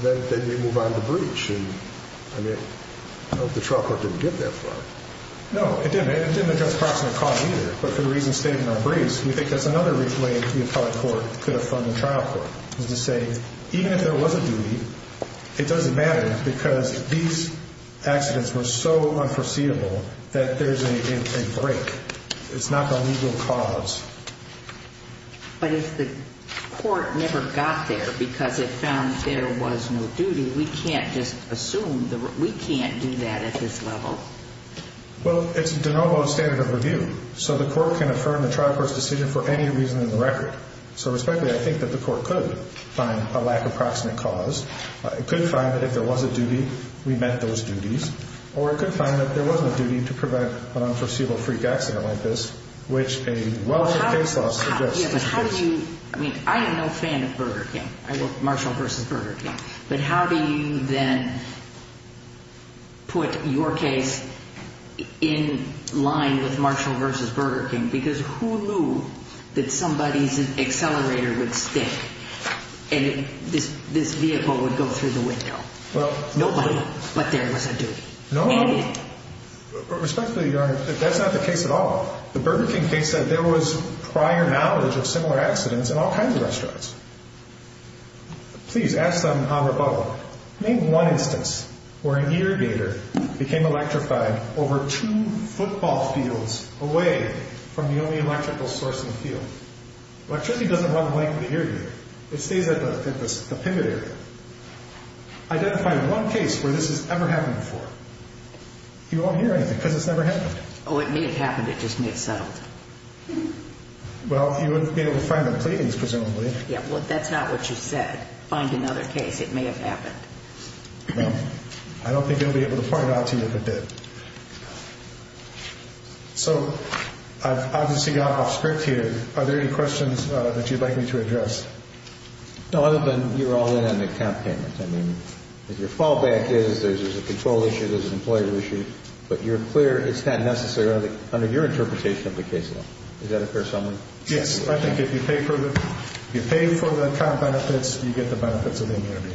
that we move on to breach. I mean, I don't know if the trial court didn't get that far. No, it didn't. It didn't address the cost of the cost either, but for the reasons stated in our briefs, we think that's another reason why the Rockefeller court put up on the trial court, is to say even if there was a duty, it doesn't matter because these accidents were so unforeseeable that there's a break. It's not an unusual cause. But if the court never got there because it found that there was no duty, we can't just assume. We can't do that at this level. Well, it's de novo standard of review. So the court can affirm the trial court's decision for any reason in the record. So respectfully, I think that the court could find a lack of proximate cause. It could find that if there was a duty, we met those duties, or it could find that there wasn't a duty to prevent an unforeseeable freak accident like this, which a Welsh case law suggests. Yeah, but how do you, I mean, I am not a fan of Burger King. I love Marshall v. Burger King. But how do you then put your case in line with Marshall v. Burger King? Because who knew that somebody's accelerator would stick and this vehicle would go through the window? Nobody, but there was a duty. No. Respectfully, Your Honor, that's not the case at all. The Burger King case said there was prior knowledge of similar accidents in all kinds of restaurants. Please, ask them on rebuttal. Name one instance where an eargazer became electrified over two football fields away from the only electrical source in the field. Electricity doesn't run away from the eargazer. It stayed with the eargazer. Identify one case where this has ever happened before. Do you all hear anything? Because it's never happened. Oh, it may have happened. It just mixed up. Well, you wouldn't be able to find a plea, presumably. Yeah, well, that's not what you said. Find another case. It may have happened. I don't think we'd be able to find out to you if it did. Are there any questions that you'd like me to address? No, other than you're all in on the account payments. I mean, your fallback is there's a control issue, there's an employer issue. But you're clear it's not necessarily, under your interpretation, the case alone. Is that a fair summary? Yes. I think if you pay for the account benefits, you get the benefits of the interview.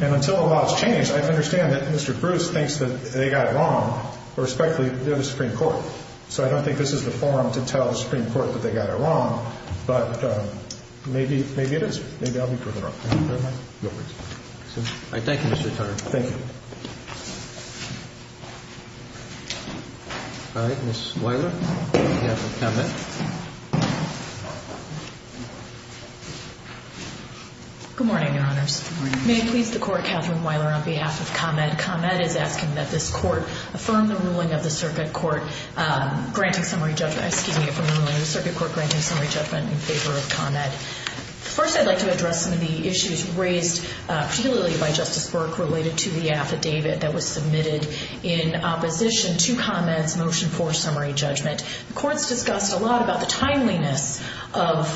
And until the law is changed, I understand that Mr. Bruce thinks that they got it wrong. Respectfully, they're the Supreme Court. So I don't think this is the forum to tell the Supreme Court that they got it wrong. But maybe it is. Maybe I'll be proven wrong. Thank you very much. No worries. Thank you, Mr. Carter. Thank you. All right, Ms. Weiler, do you have a comment? Good morning, Your Honor. Good morning. May it please the Court, Counselor Weiler, on behalf of ComEd, ComEd is asking that this Court affirm the ruling of the Circuit Court granting summary judgment, excuse me, affirmative ruling of the Circuit Court granting summary judgment in favor of ComEd. First, I'd like to address some of the issues raised particularly by Justice Burke related to the affidavit that was submitted in opposition to ComEd's motion for summary judgment. The Court discussed a lot about the timeliness of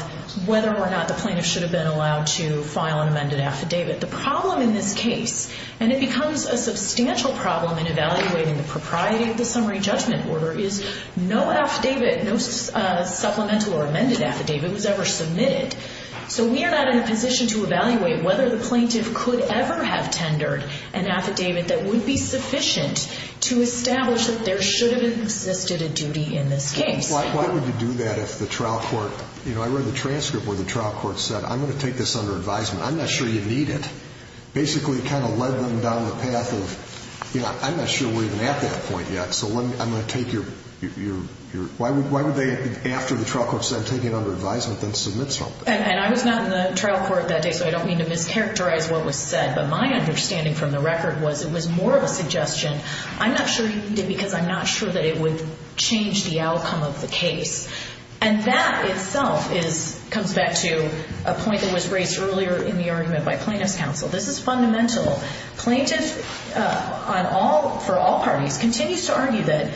whether or not the plaintiff should have been allowed to file an amended affidavit. The problem in this case, and it becomes a substantial problem in evaluating the propriety of the summary judgment order, is no affidavit, no supplemental or amended affidavit was ever submitted. So we are not in a position to evaluate whether the plaintiff could ever have tendered an affidavit that would be sufficient to establish that there should have existed a duty in this case. Why would you do that if the trial court, you know, I read the transcript where the trial court said, I'm going to take this under advisement. I'm not sure you need it. It basically kind of led them down the path of, you know, I'm not sure we're even at that point yet, so I'm going to take your – why would they, after the trial court said, take it under advisement and submit something? And I was not in the trial court that day, so I don't mean to mischaracterize what was said, but my understanding from the record was it was more of a suggestion. I'm not sure you need it because I'm not sure that it would change the outcome of the case. And that itself comes back to a point that was raised earlier in the argument by plaintiff's counsel. This is fundamental. Plaintiffs, for all parties, continue to argue that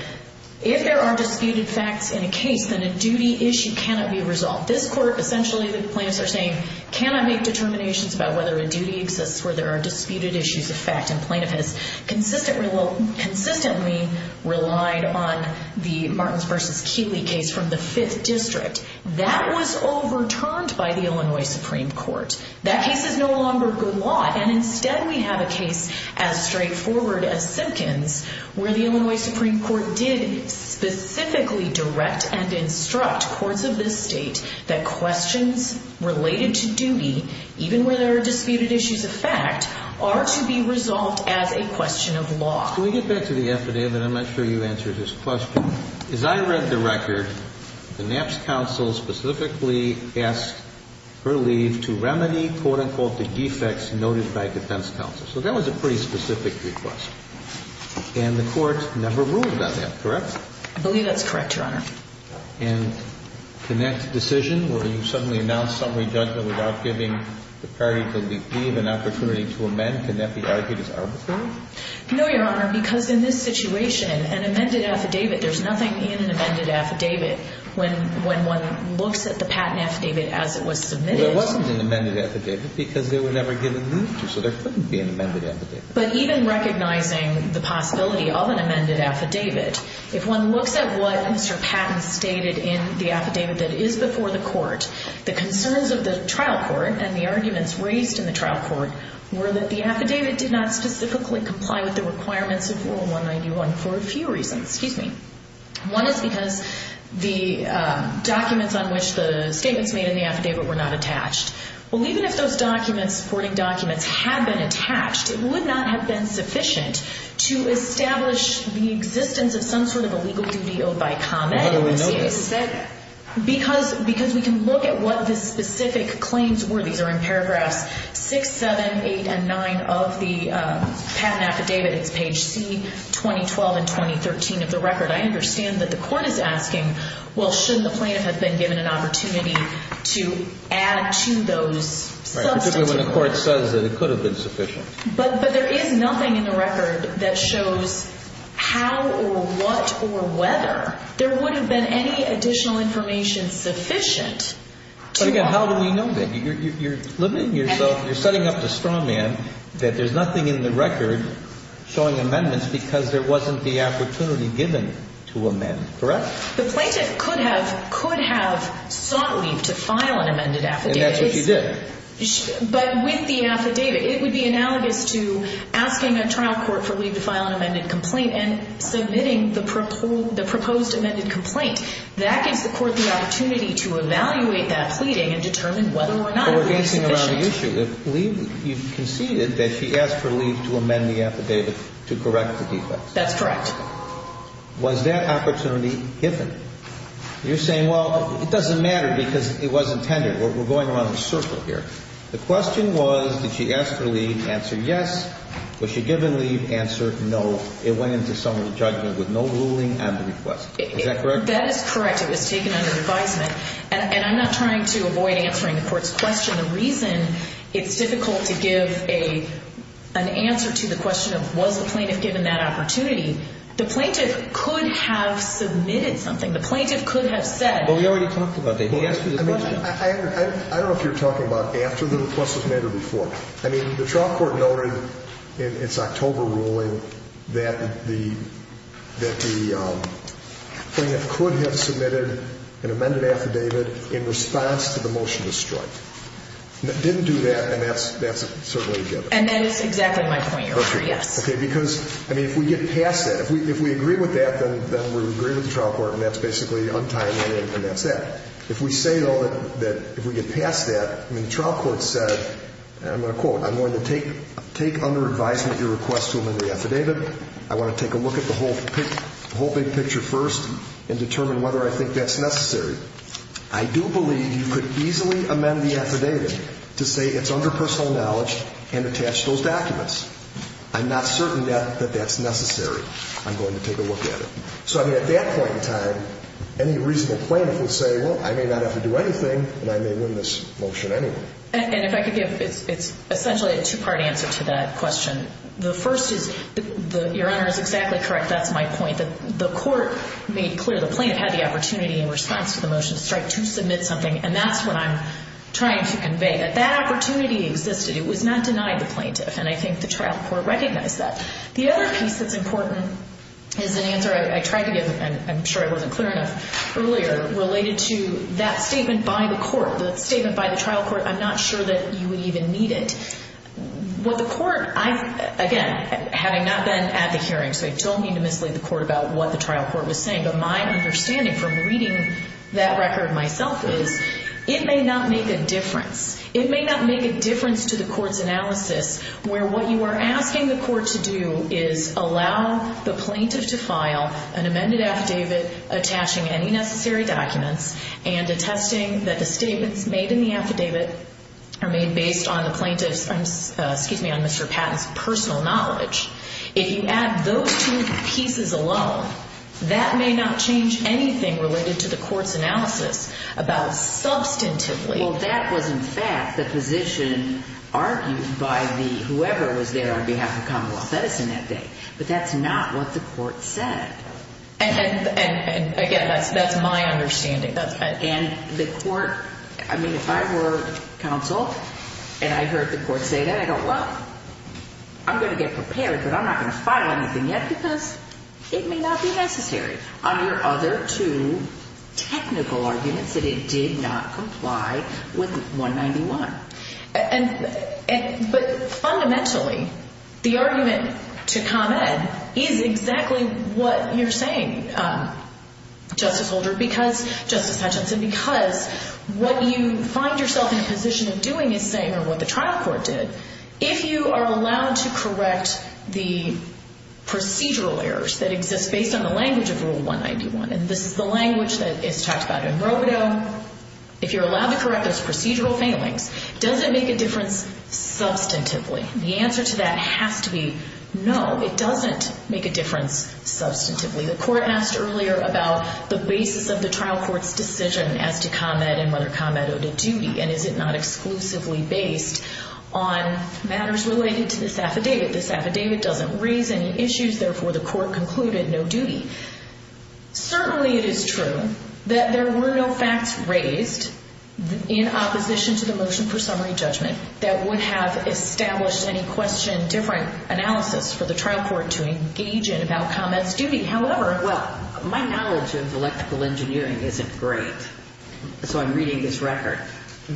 if there are disputed facts in a case, then a duty issue cannot be resolved. This court essentially, the plaintiffs are saying, cannot make determinations about whether a duty, for there are disputed issues of fact in plaintiffhood, consistently relied on the Martins v. Keeley case from the Fifth District. That was overturned by the Illinois Supreme Court. That case is no longer the law, and instead we have a case as straightforward as Simpkins, where the Illinois Supreme Court did specifically direct and instruct courts of this state that questions related to duty, even where there are disputed issues of fact, are to be resolved as a question of law. Can we get back to the affidavit? I'm not sure you answered this question. As I read the record, the Knapp's counsel specifically asked Hurley to remedy, quote-unquote, the defects noted by defense counsel. So that was a pretty specific request. And the court never ruled on that, correct? I believe that's correct, Your Honor. And in that decision, where you suddenly announced summary judgment without giving the parties the leave and opportunity to amend, can that be argued as arbitrary? No, Your Honor, because in this situation, an amended affidavit, there's nothing in an amended affidavit when one looks at the patent affidavit as it was submitted. Well, there wasn't an amended affidavit because they were never given leave, so there couldn't be an amended affidavit. But even recognizing the possibility of an amended affidavit, if one looked at what Mr. Patton stated in the affidavit that is before the court, the concerns of the trial court and the arguments raised in the trial court were that the affidavit did not specifically comply with the requirements of Rule 191 for a few reasons. Excuse me. One is because the documents on which the statements made in the affidavit were not attached. Well, even if those supporting documents had been attached, it would not have been sufficient to establish the existence of some sort of a legal duty owed by comment. How do we know that? Because we can look at what the specific claims were. These are in paragraphs 6, 7, 8, and 9 of the patent affidavit, page C, 2012 and 2013 of the record. I understand that the court is asking, well, shouldn't the plaintiff have been given an opportunity to add to those subsequent claims? That's when the court says that it could have been sufficient. But there is nothing in the record that shows how or what or whether. There wouldn't have been any additional information sufficient. How do we know that? You're limiting yourself. You're setting up to straw man that there's nothing in the record showing amendments because there wasn't the opportunity given to amend, correct? The plaintiff could have sought leave to file an amended affidavit. And that's what she did. But with the affidavit, it would be analogous to asking a trial court for leave to file an amended complaint and submitting the proposed amended complaint. That can support the opportunity to evaluate that pleading and determine whether or not it was sufficient. But we're thinking around the issue. If leave, you conceded that she asked for leave to amend the affidavit to correct the defects. That's correct. Was that opportunity given? You're saying, well, it doesn't matter because it wasn't intended. We're going around the circle here. The question was, did she ask for leave? Answered yes. Was she given leave? Answered no. It went into some sort of judgment with no ruling on the request. Is that correct? That is correct. It was taken under advisement. And I'm not trying to avoid answering the court's question. The reason it's difficult to give an answer to the question of was the plaintiff given that opportunity, the plaintiff could have submitted something. The plaintiff could have said. Well, we already talked about that. I don't know if you're talking about after the request was made or before. I mean, the trial court noted in its October ruling that the plaintiff could have submitted an amended affidavit in response to the motion of strike. It didn't do that, and that's a survey given. And that is exactly my point over here. Because, I mean, if we get past that, if we agree with that, then we'll agree with the trial court, and that's basically untimely, and that's that. If we say, though, that if we get past that, when the trial court says, I'm going to quote, I'm going to take under advisement your request to amend the affidavit. I want to take a look at the whole big picture first and determine whether I think that's necessary. I do believe you could easily amend the affidavit to say it's under personal knowledge and attach those documents. I'm not certain that that's necessary. I'm going to take a look at it. So, I mean, at that point in time, any reasonable plaintiff would say, well, I may not have to do anything, and I may win this motion anyway. And if I could give essentially a two-part answer to that question. The first is, Your Honor is exactly correct. That's my point. The court made clear the plaintiff had the opportunity in response to the motion of strike to submit something, and that's what I'm trying to convey. If that opportunity existed, it would not deny the plaintiff, and I think the trial court recognized that. The other piece that's important is the answer I tried to give, and I'm sure it wasn't clear enough earlier, related to that statement by the court, the statement by the trial court, I'm not sure that you would even need it. Well, the court, again, having not been at the hearing, so I don't mean to mislead the court about what the trial court was saying, but my understanding from reading that record myself is it may not make a difference. It may not make a difference to the court's analysis where what you are asking the court to do is allow the plaintiff to file an amended affidavit attaching any necessary documents and attesting that the statements made in the affidavit are made based on the plaintiff's personal knowledge. If you add those two pieces alone, that may not change anything related to the court's analysis about substantively. Well, that was, in fact, the position argued by whoever was there on behalf of Commonwealth Medicine that day, but that's not what the court said. And, again, that's my understanding. And the court, I mean, if I were counsel and I heard the court say that, I'd go, well, I'm going to get prepared, but I'm not going to file anything yet because it may not be necessary. Are there other two technical arguments that it did not comply with 191? But, fundamentally, the argument to comment is exactly what you're saying, Justice Holder, because, Justice Hutchinson, because what you find yourself in a position of doing is saying what the trial court did. If you are allowed to correct the procedural errors that exist based on the language of Rule 191, and this is the language that is talked about in Roe v. Doe, if you're allowed to correct this procedural failing, does it make a difference substantively? The answer to that has to be no. It doesn't make a difference substantively. The court asked earlier about the basis of the trial court's decision as to comment and whether comment owed a duty, and is it not exclusively based on matters related to this affidavit? This affidavit doesn't raise any issues. Therefore, the court concluded no duty. Certainly, it is true that there were no facts raised in opposition to the motion for summary judgment that would have established in question different analysis for the trial court to engage in about comment's duty. However, well, my knowledge of electrical engineering isn't great, so I'm reading this record.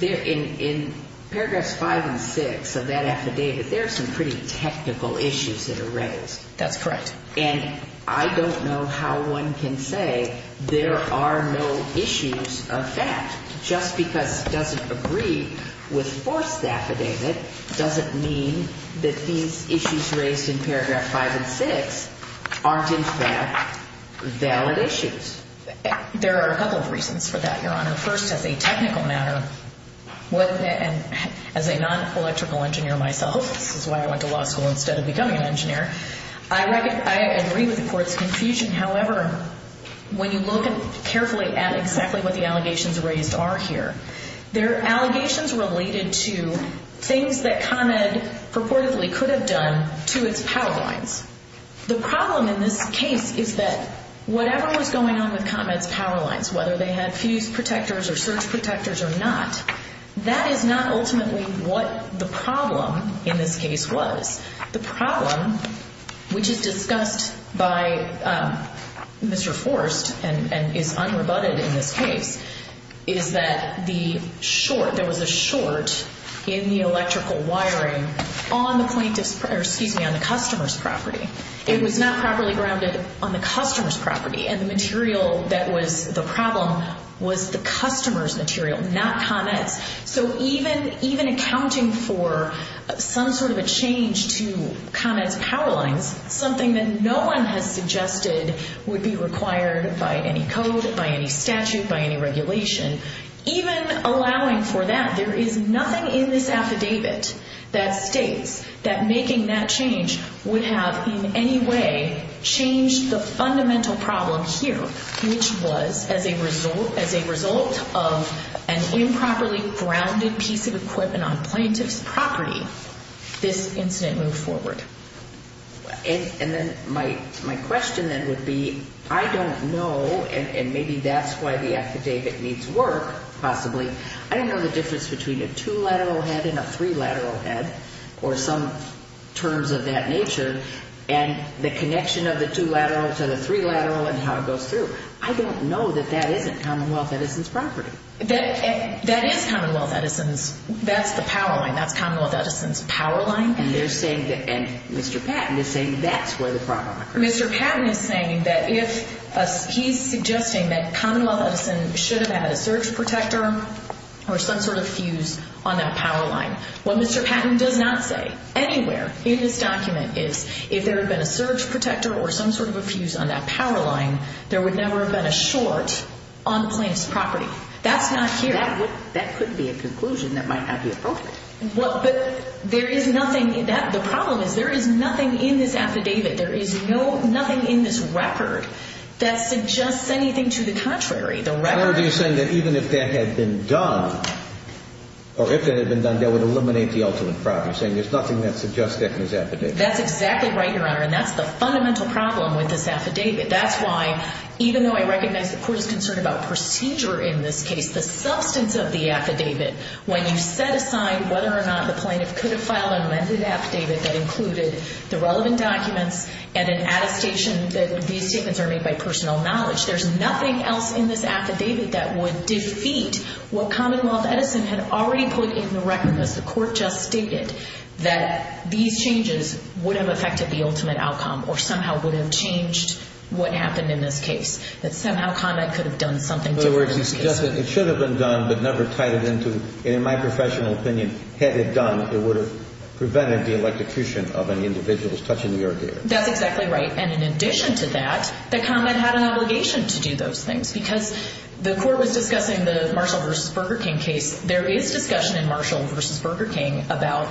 In paragraphs 5 and 6 of that affidavit, there are some pretty technical issues that are raised. That's right. And I don't know how one can say there are no issues of that. Just because it doesn't agree with the court's affidavit doesn't mean that these issues raised in paragraph 5 and 6 aren't, instead, valid issues. There are a couple of reasons for that, Your Honor. First, as a technical matter, as a non-electrical engineer myself, which is why I went to law school instead of becoming an engineer, I agree with the court's conclusion. However, when you look carefully at exactly what the allegations raised are here, they're allegations related to things that ComEd purportedly could have done to its power lines. The problem in this case is that whatever was going on in ComEd's power lines, whether they had fuse protectors or surge protectors or not, that is not ultimately what the problem in this case was. The problem, which is discussed by Mr. Forrest and is unrebutted in this case, is that there was a short in the electrical wiring on the customer's property. It was not properly grounded on the customer's property, and the material that was the problem was the customer's material, not ComEd. So even accounting for some sort of a change to ComEd's power lines, something that no one had suggested would be required by any code, by any statute, by any regulation, even allowing for that, there is nothing in this affidavit that states that making that change would have in any way changed the fundamental problem here, which was, as a result of an improperly grounded piece of equipment on plaintiff's property, this incident moves forward. And then my question then would be, I don't know, and maybe that's why the affidavit needs work, possibly, I don't know the difference between a two-lateral head and a three-lateral head or some terms of that nature, and the connection of the two-lateral to the three-lateral and how it goes through. I don't know that that isn't Commonwealth Edison's property. That is Commonwealth Edison's. That's the power line, that's Commonwealth Edison's power line. And Mr. Patton is saying that's where the problem occurs. Mr. Patton is saying that if he's suggesting that Commonwealth Edison should have had a surge protector or some sort of fuse on that power line. Well, Mr. Patton does not say anywhere in this document if there had been a surge protector or some sort of fuse on that power line, there would never have been a short on the plaintiff's property. That's not here. That could be a conclusion that might not be appropriate. Well, but there is nothing in that. The problem is there is nothing in this affidavit. There is nothing in this record that suggests anything to the contrary. Or do you say that even if that had been done, or if that had been done, that would eliminate the ultimate problem, saying there's nothing that suggests that in this affidavit? That's exactly right, Your Honor, and that's the fundamental problem with this affidavit. That's why, even though I recognize the court's concern about procedure in this case, the substance of the affidavit, when you set aside whether or not the plaintiff could have filed an amended affidavit that included the relevant documents and an adaptation that these statements are made by personal knowledge, there's nothing else in this affidavit that would defeat what Commonwealth Edison had already put in the record that the court just stated, that these changes would have affected the ultimate outcome or somehow would have changed what happened in this case, that somehow Conrad could have done something different. In other words, you're suggesting it should have been done but never tied it into, and in my professional opinion, had it done, it would have prevented the electrocution of any individuals touching the earth here. That's exactly right, and in addition to that, that Conrad had an obligation to do those things because the court was discussing the Marshall v. Burger King case. There is discussion in Marshall v. Burger King about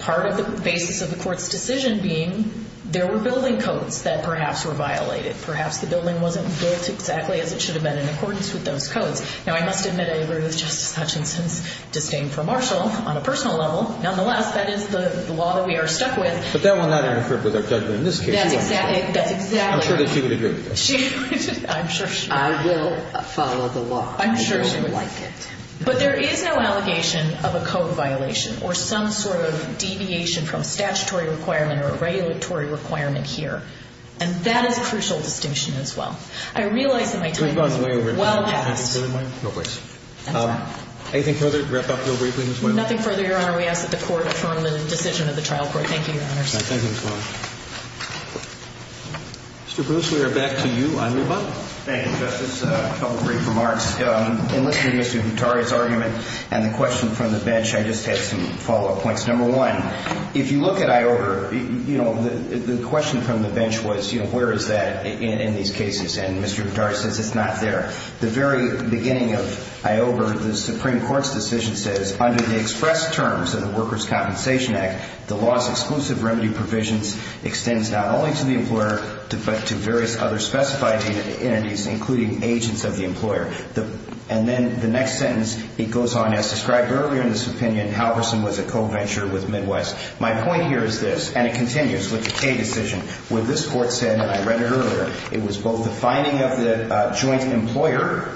part of the basis of the court's decision being there were building codes that perhaps were violated. Perhaps the building wasn't built exactly as it should have been in accordance with those codes. Now, I must admit, I agree with Justice Hutchinson's disdain for Marshall on a personal level. Nonetheless, that is the law that we are stuck with. But that will not interfere with our judgment in this case. I'm sure that she would agree with this. I'm sure she would. I will follow the law. I'm sure she would. But there is no allegation of a code violation or some sort of deviation from statutory requirement or regulatory requirement here, and that is a crucial distinction as well. I realize it might take a lot of time. No worries. Anything further? Nothing further, Your Honor. We ask that the court adjourn the decision of the trial court. Thank you, Your Honor. Thank you so much. Mr. Bruce, we are back to you. Honorable. Thank you, Justice. A couple of brief remarks. In listening to Mr. Vitaria's argument and the question from the bench, I just have some follow-up points. Number one, if you look at IOWA, the question from the bench was, where is that in these cases? And Mr. Vitaria says it's not there. The very beginning of IOWA, the Supreme Court's decision says, under the express terms of the Workers' Compensation Act, the law's exclusive remedy provision extends not only to the employer but to various other specified entities, including agents of the employer. And then the next sentence, it goes on, as described earlier in this opinion, Halverson was a co-venture with Midwest. My point here is this, and it continues with the Kaye decision, where this court said, and I read it earlier, it was both the finding of the joint employer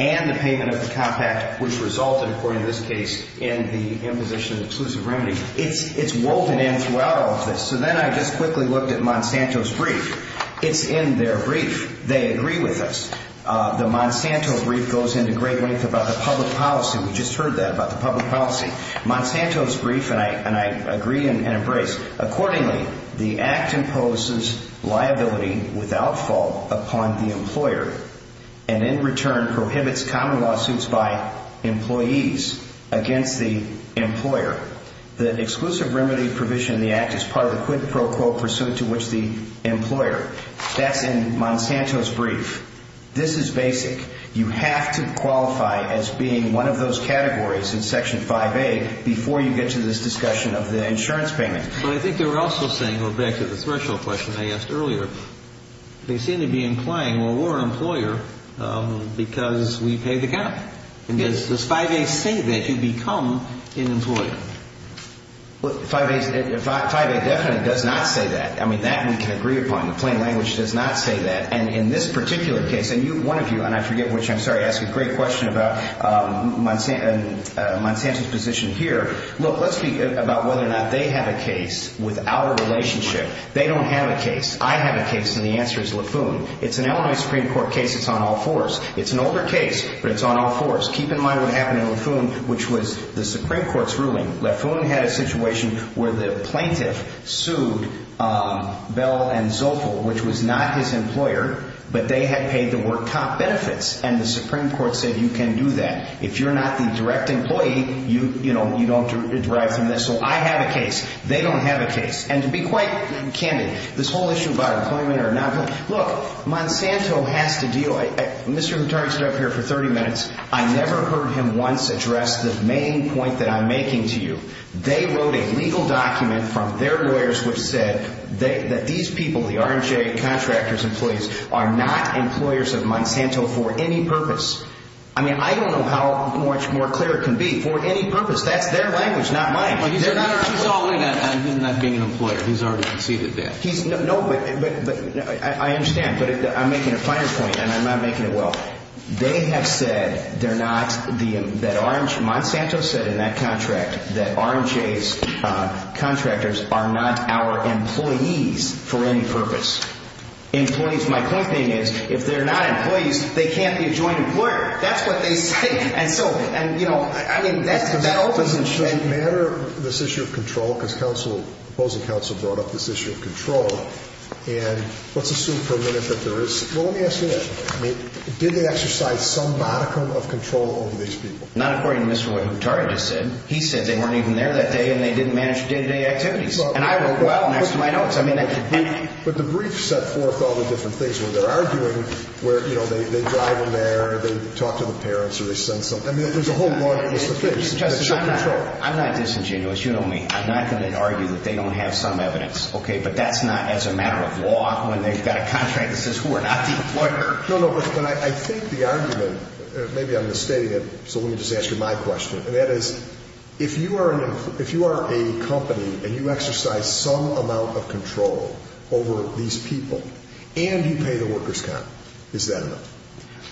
and the payment of the top act, which resulted, according to this case, in the imposition of exclusive remedy. It's woven into our office. So then I just quickly looked at Monsanto's brief. It's in their brief. They agree with us. The Monsanto brief goes into great length about the public policy. We just heard that, about the public policy. Monsanto's brief, and I agree and embrace, accordingly, the act imposes liability without fault upon the employer and, in return, prohibits common lawsuits by employees against the employer. The exclusive remedy provision in the act is part of a quid pro quo pursuit to which the employer. That's in Monsanto's brief. This is basic. You have to qualify as being one of those categories in Section 5A before you get to this discussion of the insurance payment. But I think they were also saying, going back to the threshold question I asked earlier, they seem to be implying, well, we're an employer because we pay the guy. Does 5A say that you become an employer? 5A definitely does not say that. I mean, that we can agree upon. The plain language does not say that. And in this particular case, and one of you, and I forget which, I'm sorry, asked a great question about Monsanto's position here. Look, let's speak about whether or not they have a case without a relationship. They don't have a case. I have a case, and the answer is Leffoon. It's an Illinois Supreme Court case. It's on all fours. It's an older case, but it's on all fours. Keep in mind what happened in Leffoon, which was the Supreme Court's ruling. Leffoon had a situation where the plaintiff sued Bell & Zopel, which was not his employer, but they had paid the work cop benefits, and the Supreme Court said you can do that. If you're not a direct employee, you don't derive from this. Well, I have a case. They don't have a case. And to be quite candid, this whole issue about employment or not, look, Monsanto has to deal with it. Mr. Contreras has been up here for 30 minutes. I never heard him once address the main point that I'm making to you. They wrote a legal document from their lawyers which said that these people, the R&J contractors employees, are not employers of Monsanto for any purpose. I mean, I don't know how much more clear it can be. For any purpose. That's their language, not mine. I'm not being an employer. He's already conceded that. No, but I understand. But I'm making a finance point, and I'm not making it well. They have said they're not, that Monsanto said in that contract, that R&J's contractors are not our employees for any purpose. My point being is if they're not employees, they can't be a joint employer. That's what they say. I mean, that opens and shuts the matter of this issue of control, because the opposing counsel brought up this issue of control, and let's assume for a minute that there is. Well, let me ask you this. Did they exercise some modicum of control over these people? Not according to what Mr. Wood and Mr. Carter just said. He said they weren't even there that day, and they didn't manage the day-to-day activities. And I worked well next to my office. But the briefs set forth all the different things. You know, they drop them in there, and they talk to the parents, or they send something. I mean, there's a whole modicum of control. I'm not disingenuous. You know me. I'm not going to argue that they don't have some evidence. Okay? But that's not as a matter of law when they've got a contract that says we're not an employer. No, no. But I think the argument, or maybe I'm mistaken, so let me just ask you my question, and that is if you are a company and you exercise some amount of control over these people and you pay the workers' cut, is that enough?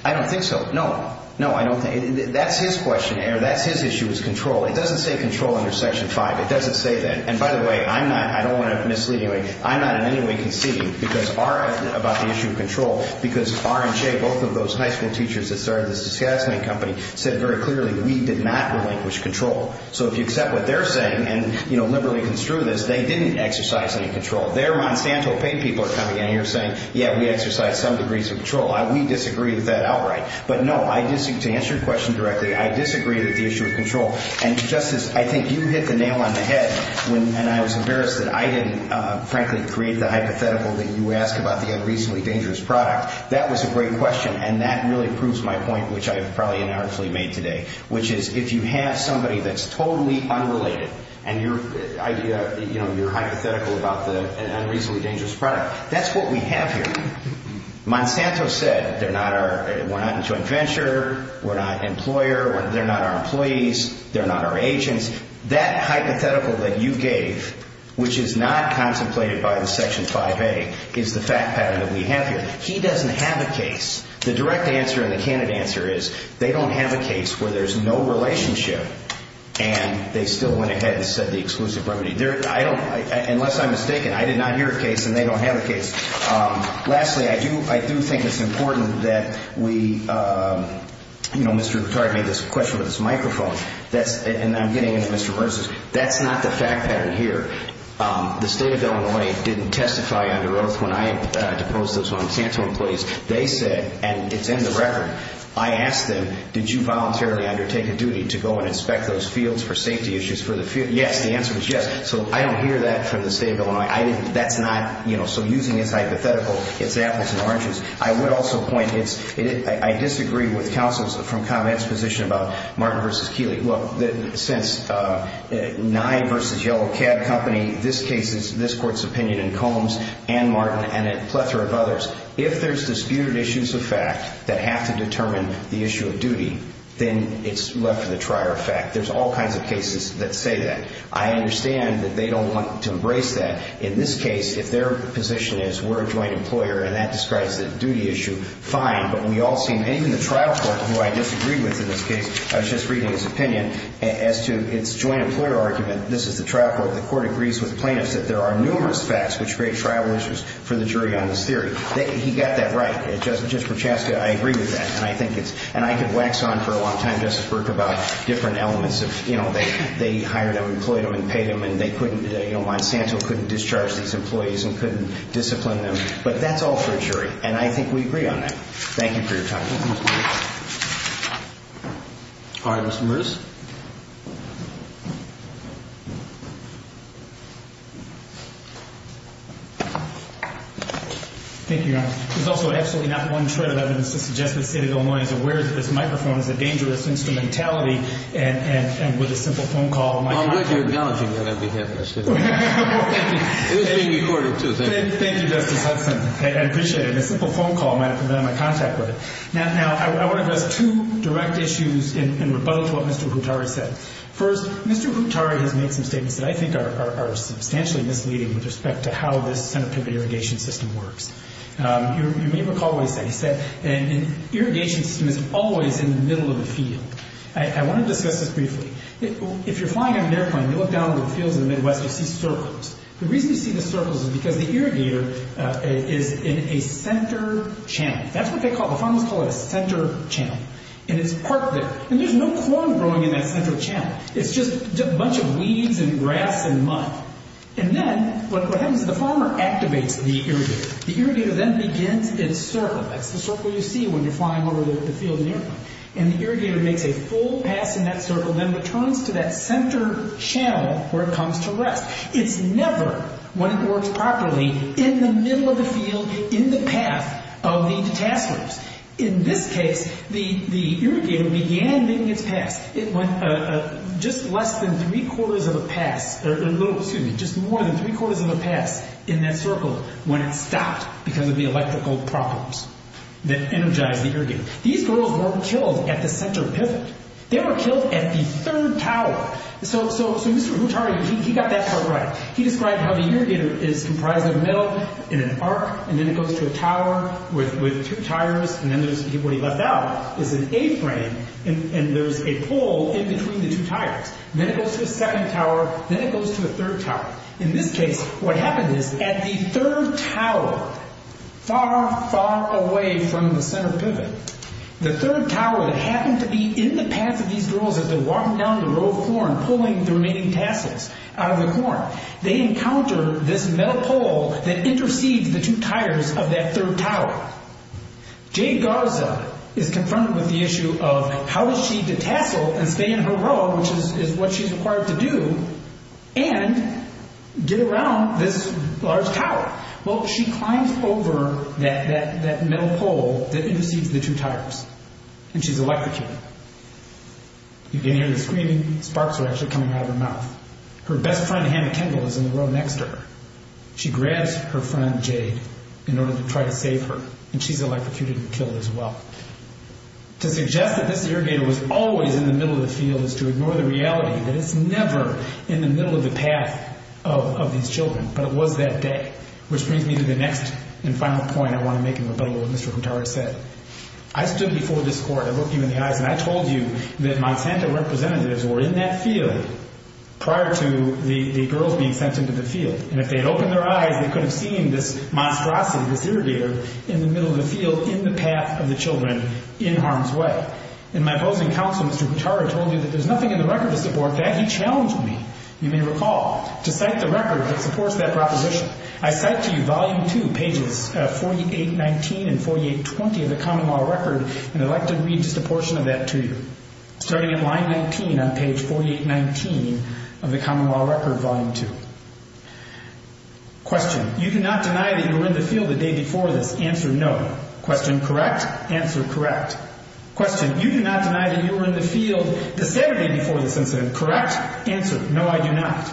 I don't think so. No. No, I don't think. That's his question, Eric. That's his issue is control. It doesn't say control under Section 5. It doesn't say that. And by the way, I'm not, I don't want to mislead you, but I'm not in any way conceding about the issue of control because R and J, both of those high school teachers that started this assessment company, said very clearly we did not relinquish control. So if you accept what they're saying and, you know, liberally construe this, they didn't exercise any control. They're substantial paid people that are coming in here saying, yeah, we exercise some degrees of control. We disagree with that outright. But, no, I disagree with the issue of control. And, Justice, I think you hit the nail on the head when I was embarrassed that I didn't, frankly, create the hypothetical that you asked about the unreasonably dangerous product. That was a great question, and that really proves my point, which I have probably inherently made today, which is if you have somebody that's totally unrelated, and your idea, you know, your hypothetical about the unreasonably dangerous product, that's what we have here. Monsanto said they're not our, what happens to a venture, we're not an employer, they're not our employees, they're not our agents. That hypothetical that you gave, which is not contemplated by the Section 5A, is the fact pattern that we have here. He doesn't have a case. The direct answer and the candid answer is they don't have a case where there's no relationship, and they still went ahead and said the exclusive leverage. I don't, unless I'm mistaken, I did not hear a case, and they don't have a case. Lastly, I do think it's important that we, you know, Mr. LeClerc had this question with this microphone, and I'm getting into Mr. Burss's, that's not the fact pattern here. The State of Illinois didn't testify under oath when I proposed those uncanceled employees. They said, and it's in the record, I asked them, did you voluntarily undertake a duty to go and inspect those fields for safety issues for the field? Yes, the answer was yes. So I don't hear that from the State of Illinois. That's not, you know, so using this hypothetical, it's apples and oranges. I would also point, I disagree with counsel's from comment's position about Martin versus Keeley. Well, since Nye versus Yellow Cab Company, this case is this court's opinion, and Combs and Martin and a plethora of others. If there's disputed issues of fact that have to determine the issue of duty, then it's left in the trier of fact. There's all kinds of cases that say that. I understand that they don't want to embrace that. In this case, if their position is we're a joint employer and that describes the duty issue, fine. But we all seem, even the trial court, who I disagree with in this case, I was just reading his opinion, as to its joint employer argument, this is the trial court, the court agrees with plaintiffs that there are numerous facts which create trial issues for the jury on this theory. He got that right. Just from Chaska, I agree with that. And I've been waxed on for a long time, Justice Berk, about different elements of, you know, they hired an employee to pay them and they couldn't, you know, Monsanto couldn't discharge these employees and couldn't discipline them. But that's all for the jury, and I think we agree on that. Thank you for your time. All right, Mr. Morris. Thank you, Your Honor. Also, actually, not the one you said, but I would suggest that the state of Illinois is aware that this microphone is a dangerous instrumentality, and with a simple phone call. Well, I'm just acknowledging that every day. That's good. Thank you. It was being recorded, too. Thank you, Justice Huffman. I appreciate it. Thank you, Justice Huffman. A simple phone call might have prevented my contact with it. Now, I want to go to two direct issues in response to what Mr. Kutari said. First, Mr. Kutari has made some statements that I think are substantially misleading with respect to how this kind of irrigation system works. You may recall what he said. He said an irrigation system is always in the middle of the field. I want to discuss this briefly. If you're flying a airplane, you look down at the field in the midway and see circles. The reason you see the circles is because the irrigator is in a center channel. That's what they call it. Farmers call it a center channel. And it's parked there. And there's no corn growing in that center channel. It's just a bunch of weeds and grass and mud. And then what happens is the farmer activates the irrigator. The irrigator then begins its circle. That's the circle you see when you're flying over the field in the airplane. And the irrigator makes a full pass in that circle, then returns to that center channel where it comes to rest. It's never, when it works properly, in the middle of the field in the path of these passers. In this case, the irrigator began being attacked. It went just less than three-quarters of a path, or excuse me, just more than three-quarters of a path in that circle when it stopped because of the electrical problems that energized the irrigator. These girls weren't killed at the center pivot. They were killed at the third tower. So he got that part right. He described how the irrigator is comprised of milk and an arc, and then it goes to a tower with two tires, and then what he left out is an A-frame, and there's a pole in between the two tires. Then it goes to a second tower. Then it goes to a third tower. In this case, what happens is at the third tower, far, far away from the center pivot, the third tower that happened to be in the path of these girls as they're walking down the road pulling the remaining passers out of the corn, they encounter this metal pole that intercedes the two tires of that third tower. Jane Garza is concerned with the issue of how does she detach those and stay in her road, which is what she's required to do, and get around this large tower. Why? Well, she climbs over that metal pole that intercedes the two tires, and she's electrocuted. You can hear the screaming sparks are actually coming out of her mouth. Her best friend, Hannah Kendall, is in the row next to her. She grabs her friend, Jane, in order to try to save her, and she's electrocuted and killed as well. So the objective that the irrigator was always in the middle of the field is to ignore the reality that it's never in the middle of the path of these children. But it was that day, which brings me to the next and final point I want to make in rebuttal to what Mr. Kutara said. I stood before this court, I looked you in the eyes, and I told you that Monsanto representatives were in that field prior to the girls being sent into the field. And if they'd opened their eyes, they couldn't have seen this monstrosity, this irrigator, in the middle of the field, in the path of the children, in harm's way. But in my voting counsel, Mr. Kutara told me that there's nothing in the record of the court that can challenge me. You may recall, to cite the record that supports that proposition, I cite to you volume two, pages 4819 and 4820 of the common law record, and I'd like to read just a portion of that to you. Starting at line 19 on page 4819 of the common law record, volume two. Question. You do not deny that you were in the field the day before this. Answer, no. Question, correct. Answer, correct. Question. You do not deny that you were in the field the Saturday before this incident. Correct. Answer, no, I do not.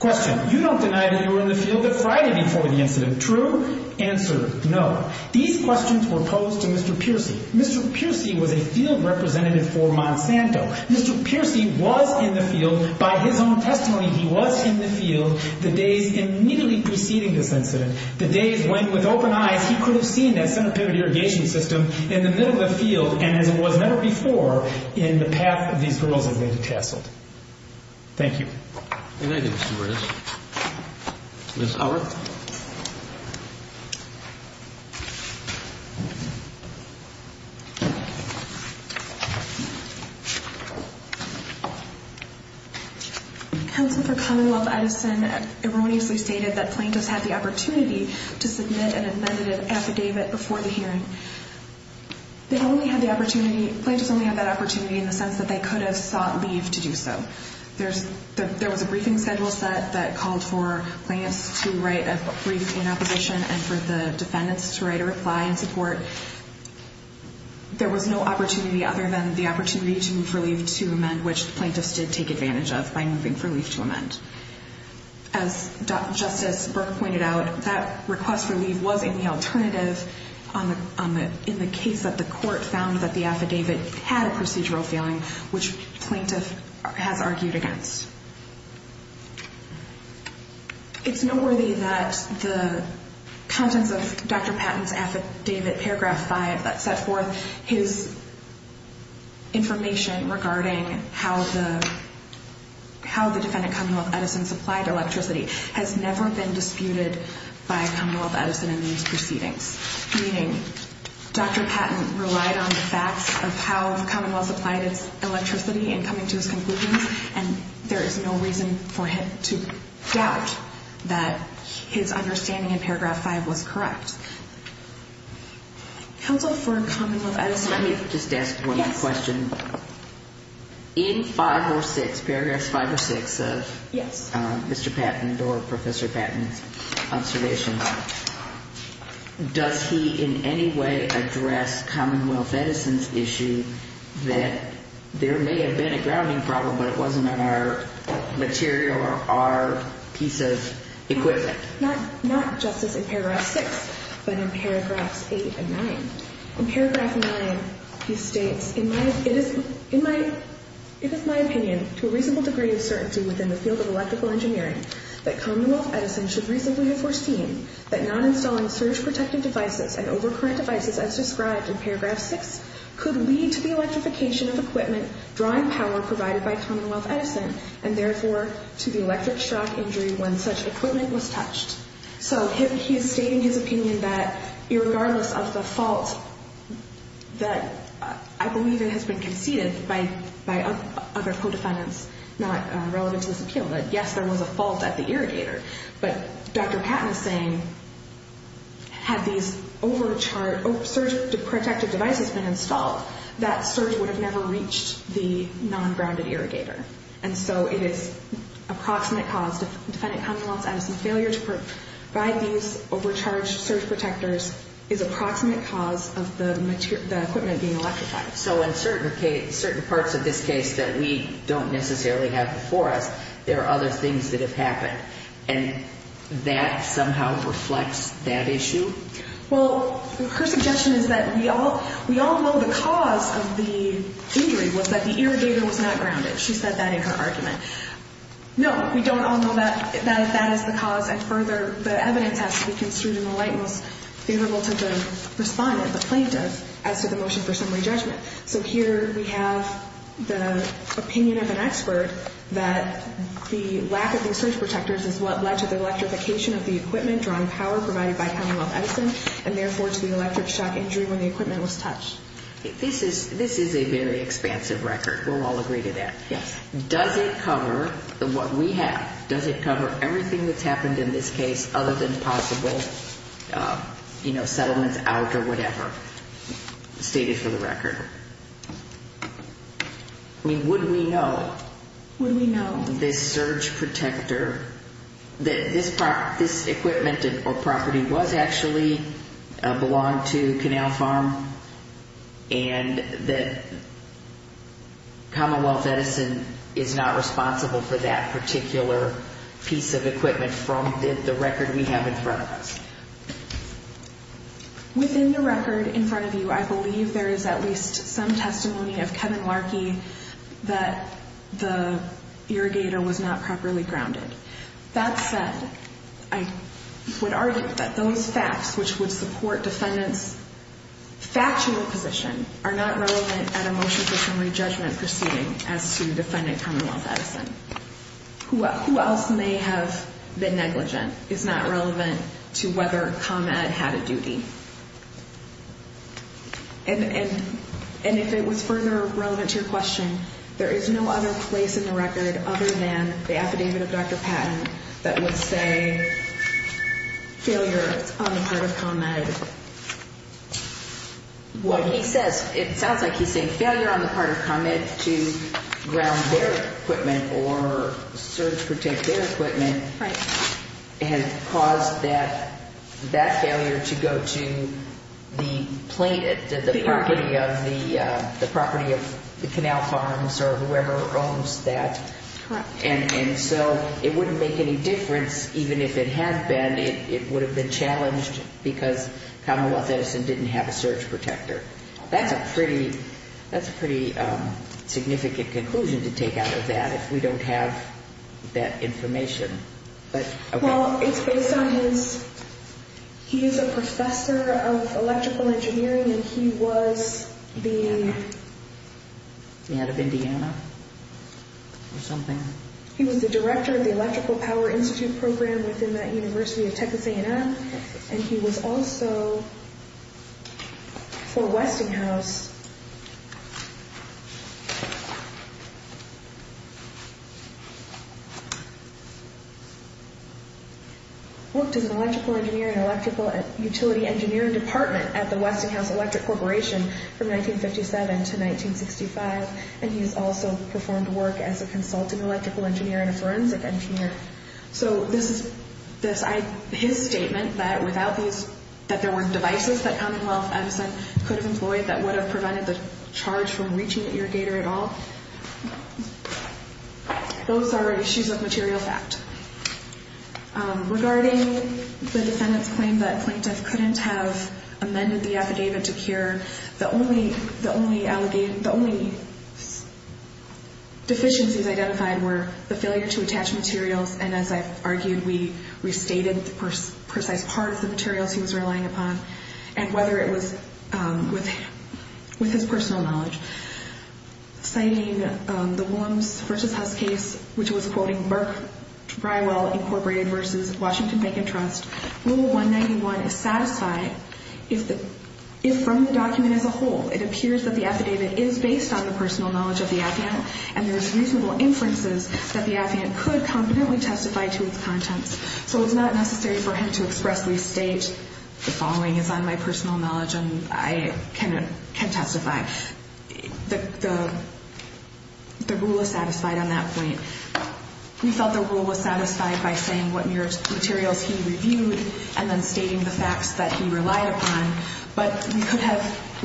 Question. You don't deny that you were in the field the Friday before the incident. True? Answer, no. These questions were posed to Mr. Piercy. Mr. Piercy was a field representative for Monsanto. Mr. Piercy was in the field. By his own testimony, he was in the field the days immediately preceding this incident, the days when with open eyes he could have seen that centipede irrigation system in the middle of the field and it was never before in the path of the Infernal Divinity Chapel. Thank you. Ms. Howard. Thank you. Council, for Commonwealth Edison, everyone needs to be stated that plaintiffs had the opportunity to submit an amended affidavit before the hearing. They only had the opportunity, plaintiffs only had that opportunity in the sense that they could have sought leave to do so. There was a briefing schedule set that called for plaintiffs to write a brief in our position and for the defendants to write a reply in support. There was no opportunity other than the opportunity to move for leave to amend, which plaintiffs did take advantage of by moving for leave to amend. As Justice Burke pointed out, that request for leave was in the alternative in the case that the court found that the affidavit had a procedural failing, which plaintiffs had argued against. It's noteworthy that the contents of Dr. Patton's affidavit, paragraphs by and set forth, his information regarding how the defendant, Commonwealth Edison, supplied electricity, has never been disputed by Commonwealth Edison in these proceedings. Meaning, Dr. Patton relied on the facts of how Commonwealth supplied his electricity in coming to this conclusion and there is no reason for him to doubt that his understanding of paragraph 5 was correct. Let me just ask one more question. In 5 or 6, paragraph 5 or 6 of Mr. Patton's or Professor Patton's observation, does he in any way address Commonwealth Edison's issue that there may have been a grounding problem but it wasn't our material or our piece of equipment? Not just in paragraph 6, but in paragraph 8 and 9. In paragraph 9, you state, In my opinion, to a reasonable degree of certainty within the field of electrical engineering, that Commonwealth Edison should reasonably foresee that non-installing surge-protective devices and overcurrent devices as described in paragraph 6, could lead to the electrification of equipment drawing power provided by Commonwealth Edison and therefore to the electric shock injury when such equipment was touched. So, he is stating his opinion that, irregardless of the fault, that I believe it has been conceded by other co-defendants, that yes, there was a fault at the irrigator, but Dr. Patton is saying, had these surge-protective devices been installed, that surge would have never reached the non-grounded irrigator. And so, it is approximate cause of the Senate Commonwealth Edison failure to provide these overcharged surge-protectors is approximate cause of the equipment being electrified. So, in certain parts of this case that we don't necessarily have before us, there are other things that have happened. And that somehow reflects that issue? Well, her suggestion is that we all know the cause of the injury was that the irrigator was not grounded. She said that in her argument. No, we don't all know that that is the cause, and further, the evidence has to be extremely reliable, favorable to the defendant, the plaintiff, as to the motion for summary judgment. So, here we have the opinion of an expert that the lack of the surge-protectors is what led to the electrification of the equipment, drawn power provided by Commonwealth Edison, and therefore to the electric shock injury when the equipment was touched. This is a very expansive record. We'll all agree to that. Yes. Does it cover what we have? Does it cover everything that's happened in this case other than possible, you know, settlements out or whatever? Stated for the record. Would we know? Would we know? That surge-protector, that this equipment or property was actually, belonged to Canal Farm, and that Commonwealth Edison is not responsible for that particular piece of equipment from the record we have in front of us? Within the record in front of you, I believe there is at least some testimony of Kevin Larkey that the irrigator was not properly grounded. That said, I would argue that those facts, which would support defendant's factual position, are not relevant at a motion for summary judgment proceeding as to defendant Commonwealth Edison. Who else may have been negligent is not relevant to whether ComEd had a duty. And if it was further relevant to your question, there is no other place in the record other than the affidavit of Dr. Patton that would say failure on the part of ComEd. Well, he says, it sounds like he's saying failure on the part of ComEd to ground their equipment or surge-protect their equipment and cause that failure to go to the property of the Canal Farms or whoever owns that. And so it wouldn't make any difference even if it had been. It would have been challenged because Commonwealth Edison didn't have a surge-protector. That's a pretty significant conclusion to take out of that if we don't have that information. Well, it's based on his... he is a professor of electrical engineering and he was the... The head of Indiana? He was the director of the Electrical Power Institute program within the University of Texas A&M. And he was also for Westinghouse... Worked in the electrical engineering and electrical utility engineering department at the Westinghouse Electric Corporation from 1957 to 1965. And he also performed work as a consultant electrical engineer and a forensic engineer. So this is his statement that without these... that there weren't devices that Commonwealth Edison could have employed that would have prevented the charge from reaching the irrigator at all. Those are issues of material fact. Regarding the defendant's claim that he couldn't have amended the affidavit to cure, the only deficiencies identified were the failure to attach materials, and as I've argued, we refated the precise part of the materials he was relying upon, and whether it was... with his personal knowledge. Citing the Wombs v. Hubs case, which was quoting Burke-Briwell Incorporated v. Washington Bank & Trust, Rule 191 is from the document as a whole. It appears that the affidavit is based on the personal knowledge of the defendant, and there's reasonable inferences that the defendant could confidently testify to its content. So it's not necessary for him to express refate. The following is on my personal knowledge, and I can testify. The rule was satisfied on that point. We felt the rule was satisfied by saying what materials he reviewed, and then stating the facts that he relied upon, but we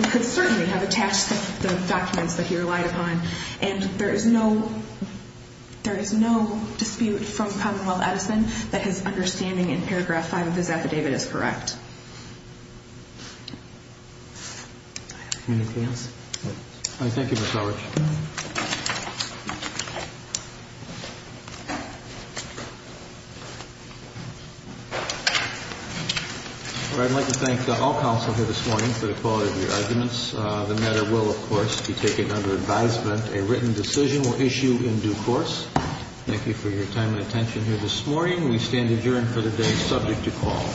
could certainly have attached those documents that he relied upon, and there is no dispute from Commonwealth Edison that his understanding in paragraph 5 of the affidavit is correct. Thank you, Ms. Howard. Thank you. I'd like to thank all counsel here this morning for the quality of your arguments. The matter will, of course, be taken under advisement. A written decision will issue in due course. Thank you for your time and attention here this morning. We stand adjourned for the day subject to call.